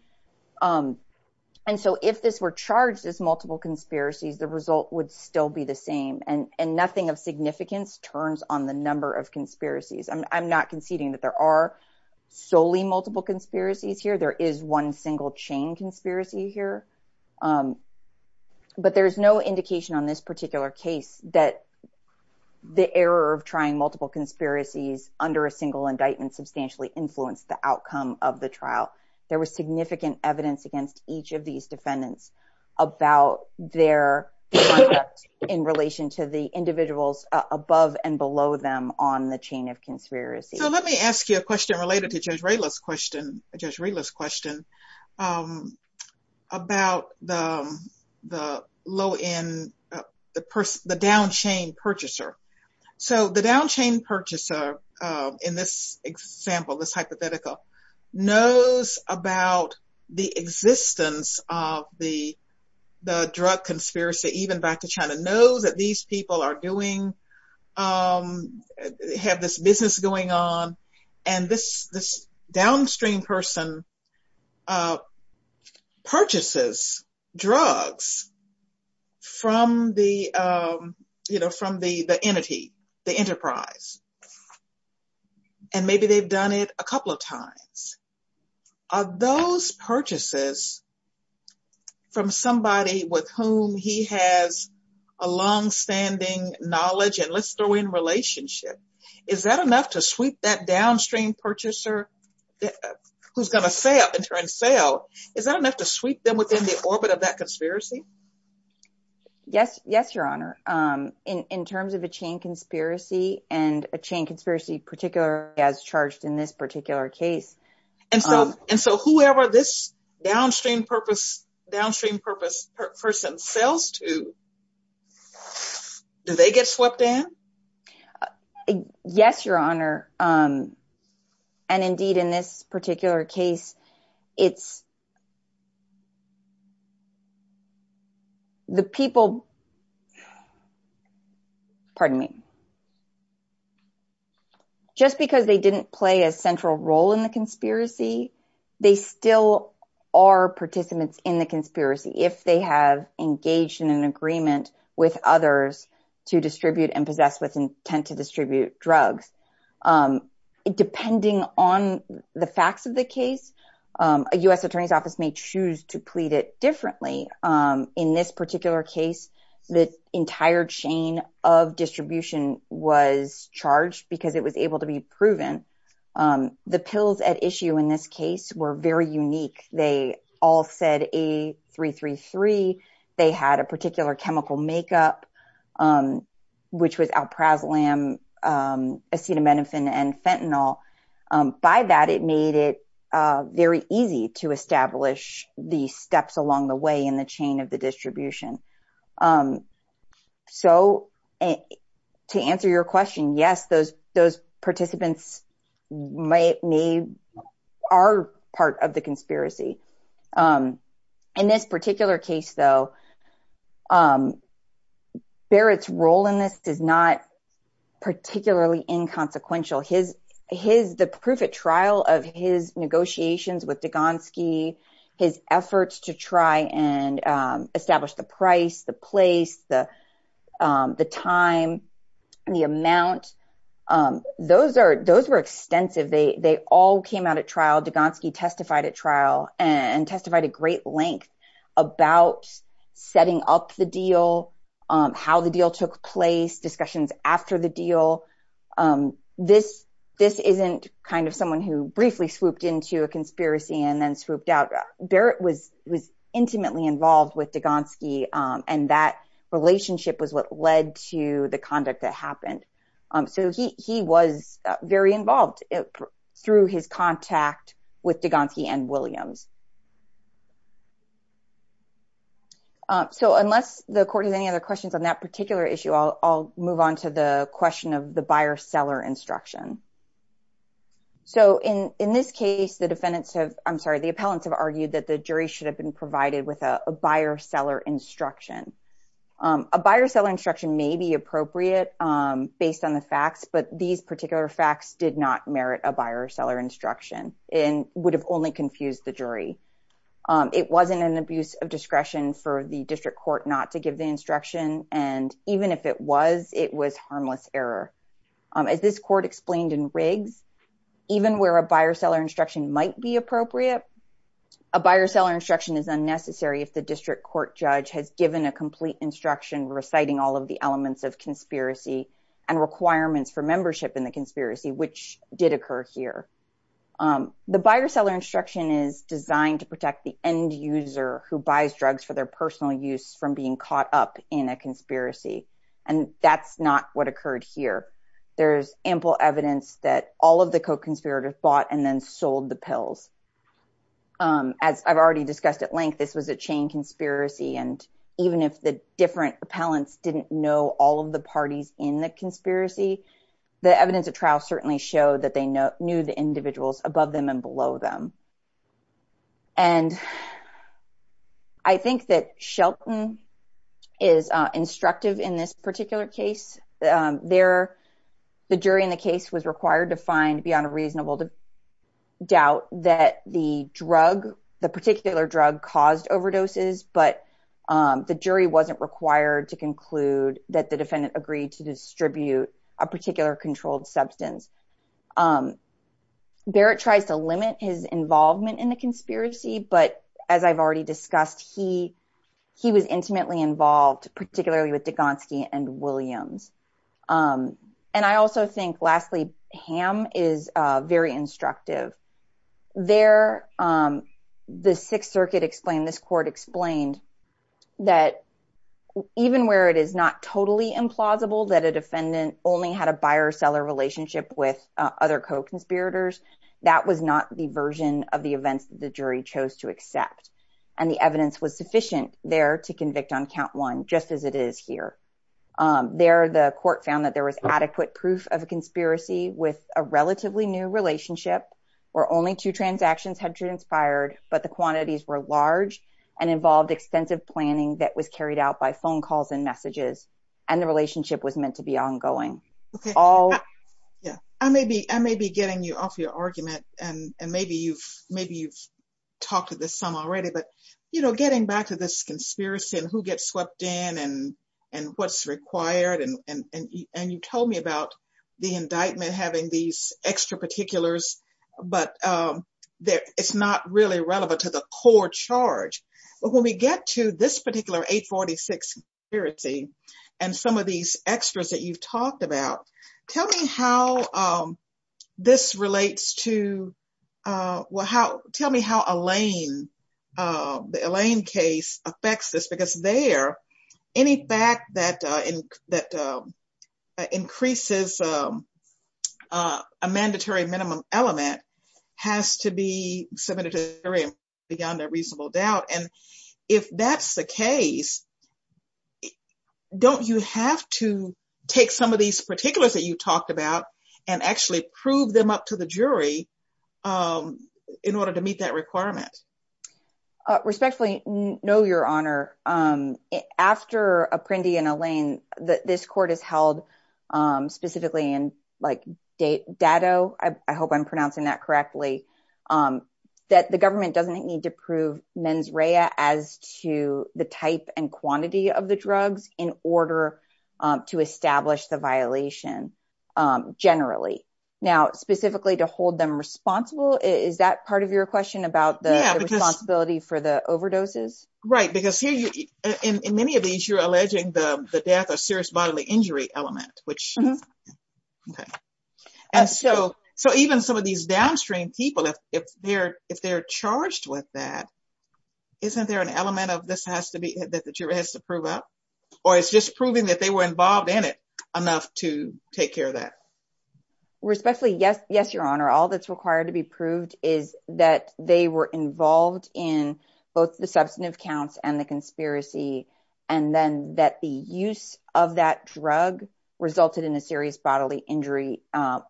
And so if this were charged as multiple conspiracies, the result would still be the same. And nothing of significance turns on the number of conspiracies. I'm not conceding that there are solely multiple conspiracies here. There is one single chain conspiracy here. But there is no indication on this particular case that the error of trying multiple conspiracies under a single indictment substantially influenced the outcome of the trial. There was significant evidence against each of these defendants about their conduct in relation to the individuals above and below them on the chain of conspiracy. So let me ask you a question related to Jesrela's question about the low end, the down chain purchaser. So the down chain purchaser in this example, this hypothetical, knows about the existence of the drug conspiracy even back to China, knows that these people are doing, have this business going on. And this downstream person purchases drugs from the entity, the enterprise. And maybe they've done it a couple of times. Are those purchases from somebody with whom he has a longstanding knowledge and let's throw in relationship? Is that enough to sweep that downstream purchaser who's going to fail, in turn, fail? Is that enough to sweep them within the orbit of that conspiracy? Yes. Yes, Your Honor. In terms of the chain conspiracy and a chain conspiracy, particularly as charged in this particular case. And so whoever this downstream purpose person sells to, do they get swept in? Yes, Your Honor. And indeed, in this particular case, it's the people. Pardon me. Just because they didn't play a central role in the conspiracy, they still are participants in the conspiracy if they have engaged in an agreement with others to distribute and possess with intent to distribute drugs. Depending on the facts of the case, a U.S. Attorney's Office may choose to plead it differently. In this particular case, the entire chain of distribution was charged because it was able to be proven. The pills at issue in this case were very unique. They all said A333. They had a particular chemical makeup, which was alprazolam, acetaminophen and fentanyl. By that, it made it very easy to establish the steps along the way in the chain of the distribution. So to answer your question, yes, those participants are part of the conspiracy. In this particular case, though, Barrett's role in this is not particularly inconsequential. The proof at trial of his negotiations with Degonski, his efforts to try and establish the price, the place, the time, the amount, those were extensive. They all came out at trial. Degonski testified at trial and testified at great length about setting up the deal, how the deal took place, discussions after the deal. This isn't kind of someone who briefly swooped into a conspiracy and then swooped out. Barrett was intimately involved with Degonski, and that relationship was what led to the conduct that happened. So he was very involved through his contact with Degonski and Williams. So unless the court has any other questions on that particular issue, I'll move on to the question of the buyer-seller instruction. So in this case, the defendants have, I'm sorry, the appellants have argued that the jury should have been provided with a buyer-seller instruction. A buyer-seller instruction may be appropriate based on the facts, but these particular facts did not merit a buyer-seller instruction and would have only confused the jury. It wasn't an abuse of discretion for the district court not to give the instruction, and even if it was, it was harmless error. As this court explained in Riggs, even where a buyer-seller instruction might be appropriate, a buyer-seller instruction is unnecessary if the district court judge has given a complete instruction reciting all of the elements of conspiracy and requirements for membership in the conspiracy, which did occur here. The buyer-seller instruction is designed to protect the end user who buys drugs for their personal use from being caught up in a conspiracy, and that's not what occurred here. There's ample evidence that all of the co-conspirators bought and then sold the pills. As I've already discussed at length, this was a chain conspiracy, and even if the different appellants didn't know all of the parties in the conspiracy, the evidence of trial certainly showed that they knew the individuals above them and below them. And I think that Shelton is instructive in this particular case. The jury in the case was required to find beyond a reasonable doubt that the drug, the particular drug, caused overdoses, but the jury wasn't required to conclude that the defendant agreed to distribute a particular controlled substance. Barrett tried to limit his involvement in the conspiracy, but as I've already discussed, he was intimately involved, particularly with Degonski and Williams. And I also think, lastly, Ham is very instructive. There, the Sixth Circuit explained, this court explained, that even where it is not totally implausible that a defendant only had a buyer-seller relationship with other co-conspirators, that was not the version of the events the jury chose to accept. And the evidence was sufficient there to convict on count one, just as it is here. There, the court found that there was adequate proof of a conspiracy with a relatively new relationship, where only two transactions had transpired, but the quantities were large and involved extensive planning that was carried out by phone calls and messages, and the relationship was meant to be ongoing. I may be getting you off your argument, and maybe you've talked to this some already, but, you know, getting back to this conspiracy and who gets swept in and what's required, and you told me about the indictment having these extra particulars, but it's not really relevant to the core charge. But when we get to this particular 846 conspiracy and some of these extras that you've talked about, tell me how this relates to, well, how, tell me how Elaine, the Elaine case affects this, because there, any fact that increases a mandatory minimum element has to be submitted to the jury beyond a reasonable doubt. And if that's the case, don't you have to take some of these particulars that you talked about and actually prove them up to the jury in order to meet that requirement? Respectfully, no, Your Honor. After Apprendi and Elaine, this court has held specifically in, like, Datto, I hope I'm pronouncing that correctly, that the government doesn't need to prove mens rea as to the type and quantity of the drugs in order to establish the violation generally. Now, specifically to hold them responsible, is that part of your question about the responsibility for the overdoses? Right, because here, in many of these, you're alleging the death or serious bodily injury element, which, okay. And so even some of these downstream people, if they're charged with that, isn't there an element of this has to be, that the jury has to prove up? Or it's just proving that they were involved in it enough to take care of that? Respectfully, yes, Your Honor. All that's required to be proved is that they were involved in both the substantive counts and the conspiracy, and then that the use of that drug resulted in a serious bodily injury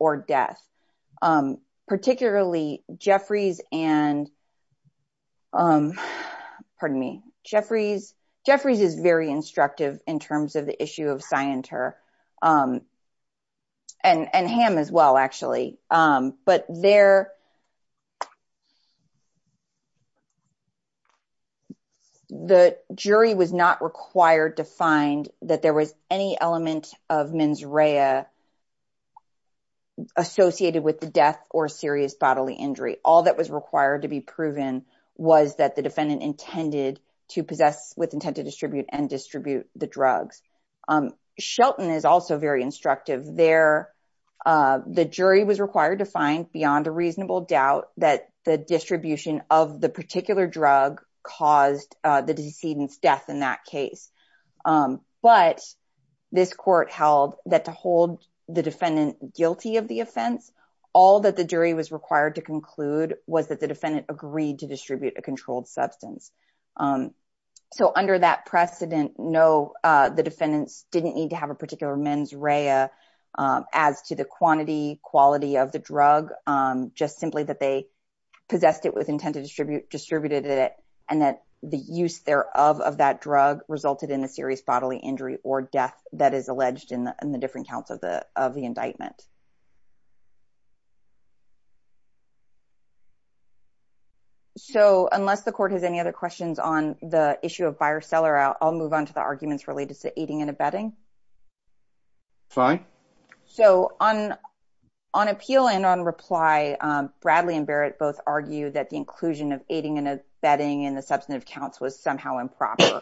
or death. Particularly Jeffries and, pardon me, Jeffries, Jeffries is very instructive in terms of the issue of Scienter. And Ham as well, actually. But there, the jury was not required to find that there was any element of mens rea associated with the death or serious bodily injury. All that was required to be proven was that the defendant intended to possess with intent to distribute and distribute the drugs. Shelton is also very instructive. There, the jury was required to find beyond a reasonable doubt that the distribution of the particular drug caused the decedent's death in that case. But this court held that to hold the defendant guilty of the offense, all that the jury was required to conclude was that the defendant agreed to distribute a controlled substance. So under that precedent, no, the defendant didn't need to have a particular mens rea as to the quantity, quality of the drug. Just simply that they possessed it with intent to distribute it and that the use thereof of that drug resulted in a serious bodily injury or death that is alleged in the different counts of the indictment. So unless the court has any other questions on the issue of buyer-seller, I'll move on to the arguments related to aiding and abetting. So on appeal and on reply, Bradley and Barrett both argue that the inclusion of aiding and abetting in the substantive counsel is somehow improper.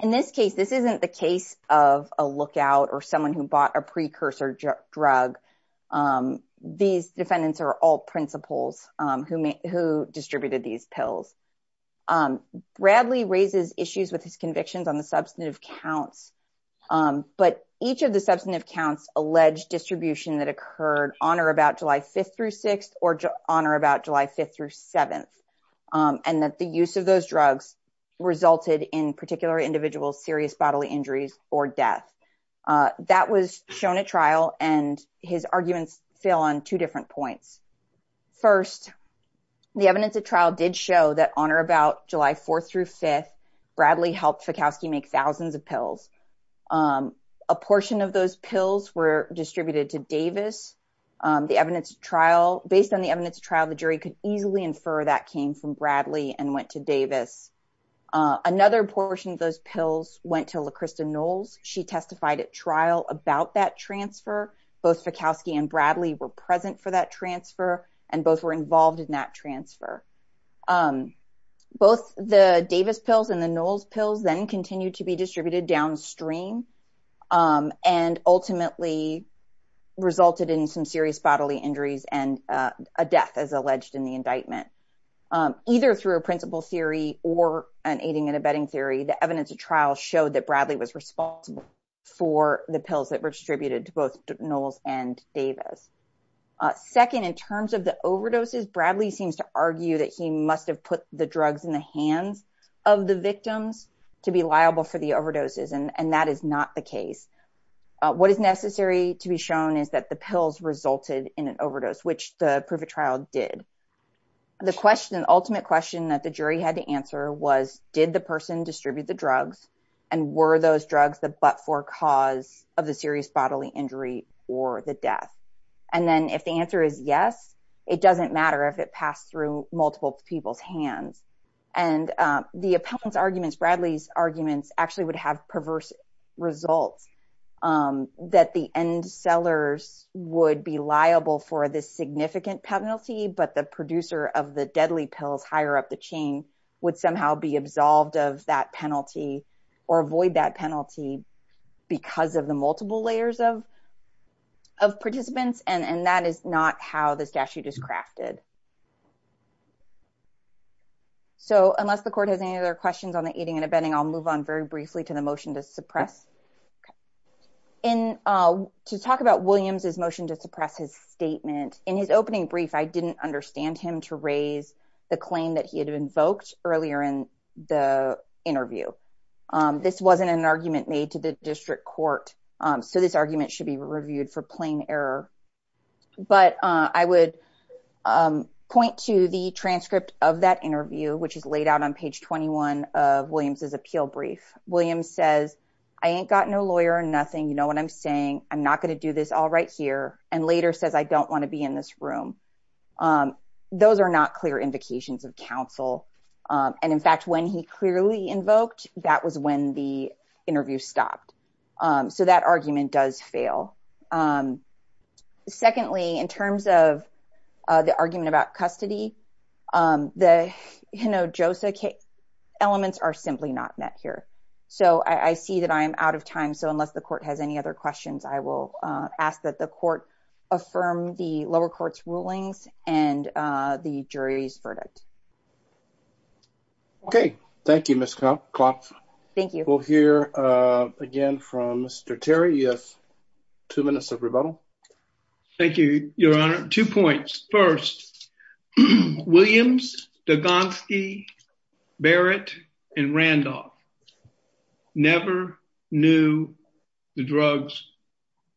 In this case, this isn't the case of a lookout or someone who bought a precursor drug. These defendants are all principals who distributed these pills. Bradley raises issues with his convictions on the substantive counts, but each of the substantive counts alleged distribution that occurred on or about July 5th through 6th or on or about July 5th through 7th and that the use of those drugs resulted in particular individual serious bodily injuries or death. That was shown at trial, and his arguments fail on two different points. First, the evidence at trial did show that on or about July 4th through 5th, Bradley helped Fikowski make thousands of pills. A portion of those pills were distributed to Davis. Based on the evidence at trial, the jury could easily infer that came from Bradley and went to Davis. Another portion of those pills went to Lacrysta Knowles. She testified at trial about that transfer. Both Fikowski and Bradley were present for that transfer, and both were involved in that transfer. Both the Davis pills and the Knowles pills then continued to be distributed downstream and ultimately resulted in some serious bodily injuries and a death as alleged in the indictment. Either through a principal theory or an aiding and abetting theory, the evidence at trial showed that Bradley was responsible for the pills that were distributed to both Knowles and Davis. Second, in terms of the overdoses, Bradley seems to argue that he must have put the drugs in the hands of the victim to be liable for the overdoses, and that is not the case. What is necessary to be shown is that the pills resulted in an overdose, which the proof of trial did. The ultimate question that the jury had to answer was, did the person distribute the drugs, and were those drugs the but-for cause of the serious bodily injury or the death? And then if the answer is yes, it doesn't matter if it passed through multiple people's hands. And the appellant's arguments, Bradley's arguments, actually would have perverse results. That the end sellers would be liable for the significant penalty, but the producer of the deadly pills higher up the chain would somehow be absolved of that penalty or avoid that penalty because of the multiple layers of participants. And that is not how the statute is crafted. So unless the court has any other questions on the eating and abetting, I'll move on very briefly to the motion to suppress. To talk about Williams' motion to suppress his statement, in his opening brief, I didn't understand him to raise the claim that he had invoked earlier in the interview. This wasn't an argument made to the district court, so this argument should be reviewed for plain error. But I would point to the transcript of that interview, which is laid out on page 21 of Williams' appeal brief. Williams says, I ain't got no lawyer or nothing, you know what I'm saying, I'm not going to do this all right here, and later says I don't want to be in this room. Those are not clear indications of counsel. And in fact, when he clearly invoked, that was when the interview stopped. So that argument does fail. Secondly, in terms of the argument about custody, the Hinojosa elements are simply not met here. So I see that I'm out of time, so unless the court has any other questions, I will ask that the court affirm the lower court's rulings and the jury's verdict. Okay. Thank you, Ms. Kloff. We'll hear again from Mr. Terry. You have two minutes of rebuttal. Thank you, Your Honor. Two points. First, Williams, Dolgonsky, Barrett, and Randolph never knew the drugs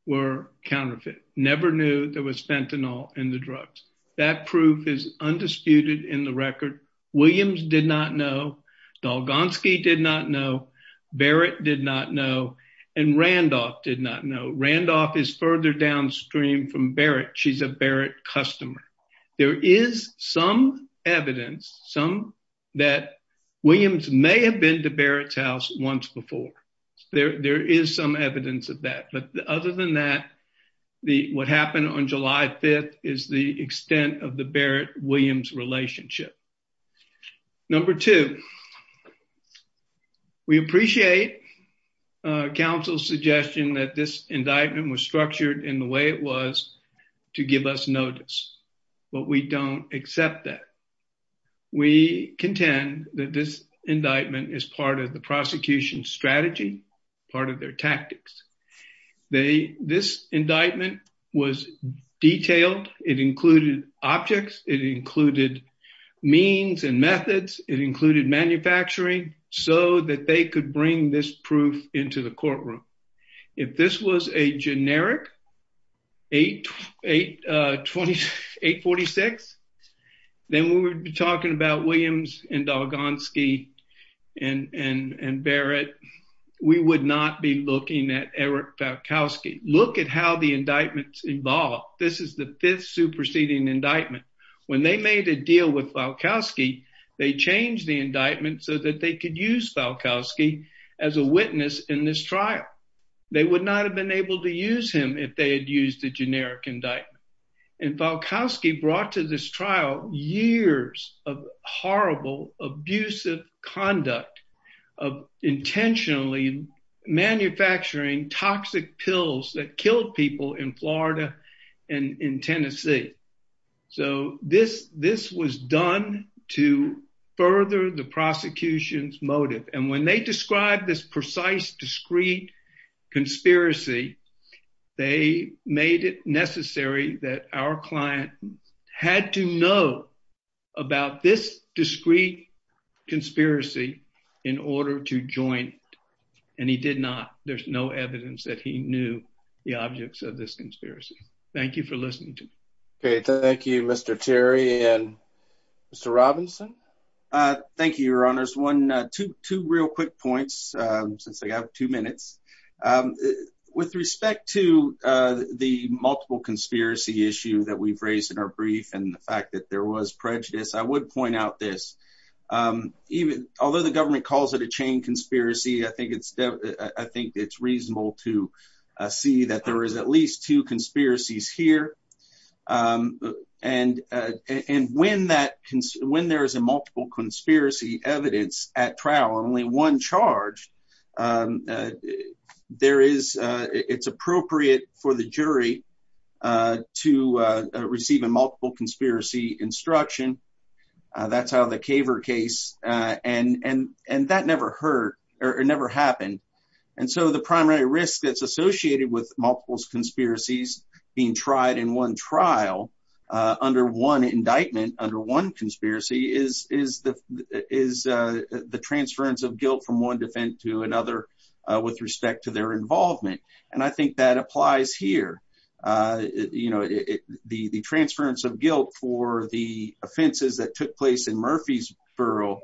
were counterfeit, never knew there was fentanyl in the drugs. That proof is undisputed in the record. Williams did not know. Dolgonsky did not know. Barrett did not know. And Randolph did not know. Randolph is further downstream from Barrett. She's a Barrett customer. There is some evidence that Williams may have been to Barrett's house once before. There is some evidence of that. But other than that, what happened on July 5th is the extent of the Barrett-Williams relationship. Number two, we appreciate counsel's suggestion that this indictment was structured in the way it was to give us notice. But we don't accept that. We contend that this indictment is part of the prosecution's strategy, part of their tactics. This indictment was detailed. It included objects. It included means and methods. It included manufacturing so that they could bring this proof into the courtroom. If this was a generic 846, then we would be talking about Williams and Dolgonsky and Barrett. We would not be looking at Eric Falkowski. Look at how the indictment's involved. This is the fifth superseding indictment. When they made a deal with Falkowski, they changed the indictment so that they could use Falkowski as a witness in this trial. They would not have been able to use him if they had used the generic indictment. And Falkowski brought to this trial years of horrible, abusive conduct of intentionally manufacturing toxic pills that killed people in Florida and in Tennessee. So this was done to further the prosecution's motive. And when they described this precise, discrete conspiracy, they made it necessary that our client had to know about this discrete conspiracy in order to join it. And he did not. There's no evidence that he knew the objects of this conspiracy. Thank you for listening to me. Thank you, Mr. Terry and Mr. Robinson. Thank you, Your Honors. Two real quick points, since I have two minutes. With respect to the multiple conspiracy issue that we've raised in our brief and the fact that there was prejudice, I would point out this. Although the government calls it a chain conspiracy, I think it's reasonable to see that there is at least two conspiracies here. And when there is a multiple conspiracy evidence at trial, only one charge, it's appropriate for the jury to receive a multiple conspiracy instruction. That's how the Kaver case, and that never happened. And so the primary risk that's associated with multiple conspiracies being tried in one trial under one indictment, under one conspiracy, is the transference of guilt from one defense to another with respect to their involvement. And I think that applies here. The transference of guilt for the offenses that took place in Murfreesboro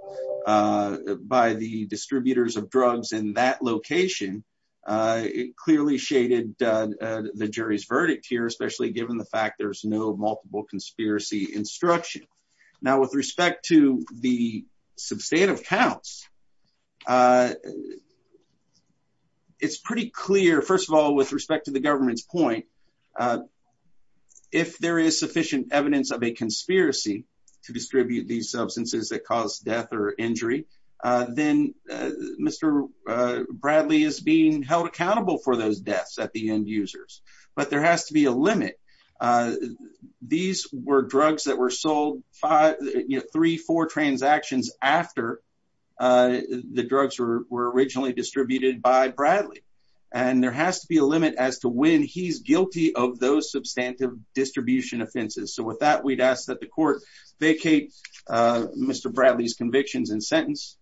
by the distributors of drugs in that location, it clearly shaded the jury's verdict here, especially given the fact there's no multiple conspiracy instruction. Now, with respect to the substantive counts, it's pretty clear, first of all, with respect to the government's point, if there is sufficient evidence of a conspiracy to distribute these substances that caused death or injury, then Mr. Bradley is being held accountable for those deaths at the end users. But there has to be a limit. These were drugs that were sold three, four transactions after the drugs were originally distributed by Bradley. And there has to be a limit as to when he's guilty of those substantive distribution offenses. So with that, we'd ask that the court vacate Mr. Bradley's convictions and sentence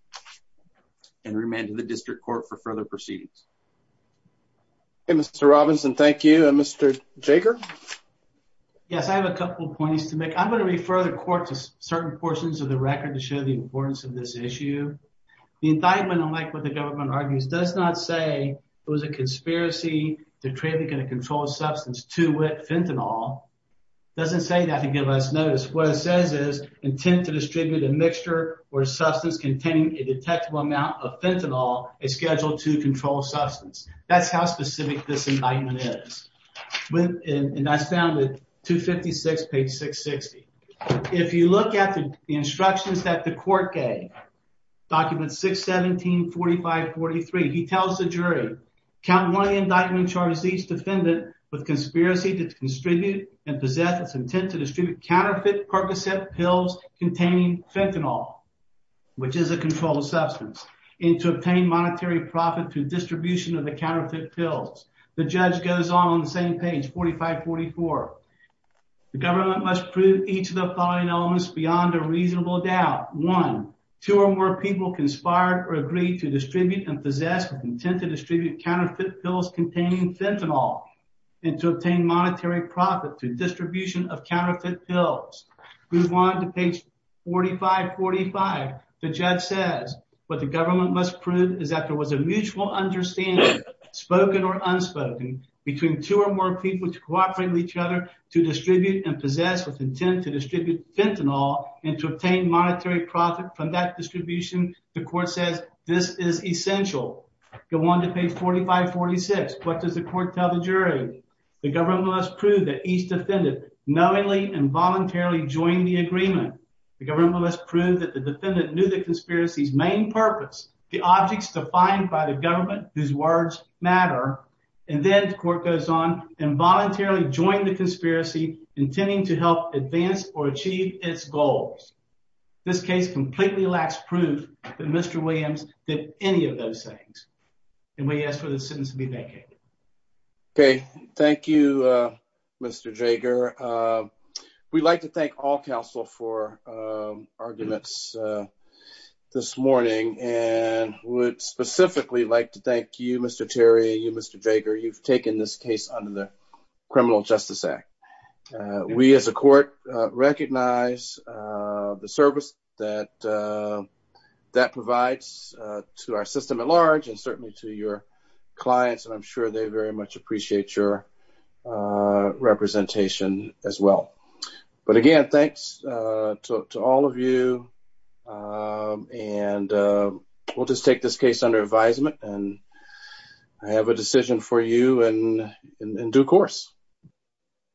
and remand him to the district court for further proceedings. Okay, Mr. Robinson, thank you. Mr. Jager? Yes, I have a couple of points to make. I'm going to refer the court to certain portions of the record to show the importance of this issue. The indictment, like what the government argues, does not say it was a conspiracy to trade a controlled substance to fentanyl. It doesn't say that to give us notice. What it says is, intent to distribute a mixture or substance containing a detectable amount of fentanyl is scheduled to control substance. That's how specific this indictment is. And I found it, 256, page 660. If you look at the instructions that the court gave, document 617, 4543, he tells the jury, Count one indictment charges each defendant with conspiracy to distribute and possess of intent to distribute counterfeit Percocet pills containing fentanyl, which is a controlled substance, and to obtain monetary profit through distribution of the counterfeit pills. The judge goes on on the same page, 4544. The government must prove each of the following elements beyond a reasonable doubt. One, two or more people conspired or agreed to distribute and possess of intent to distribute counterfeit pills containing fentanyl, and to obtain monetary profit through distribution of counterfeit pills. Go on to page 4545. The judge says, what the government must prove is that there was a mutual understanding, spoken or unspoken, between two or more people to cooperate with each other to distribute and possess with intent to distribute fentanyl, and to obtain monetary profit from that distribution. The court says this is essential. Go on to page 4546. What does the court tell the jury? The government must prove that each defendant knowingly and voluntarily joined the agreement. The government must prove that the defendant knew the conspiracy's main purpose, the objects defined by the government, whose words matter. And then the court goes on, involuntarily joined the conspiracy, intending to help advance or achieve its goals. This case completely lacks proof that Mr. Williams did any of those things. And we ask for the sentence to be vacated. Okay. Thank you, Mr. Jager. We'd like to thank all counsel for arguments this morning, and would specifically like to thank you, Mr. Terry, and you, Mr. Jager. You've taken this case under the Criminal Justice Act. We, as a court, recognize the service that that provides to our system at large, and certainly to your clients, and I'm sure they very much appreciate your representation as well. But, again, thanks to all of you, and we'll just take this case under advisement, and I have a decision for you in due course.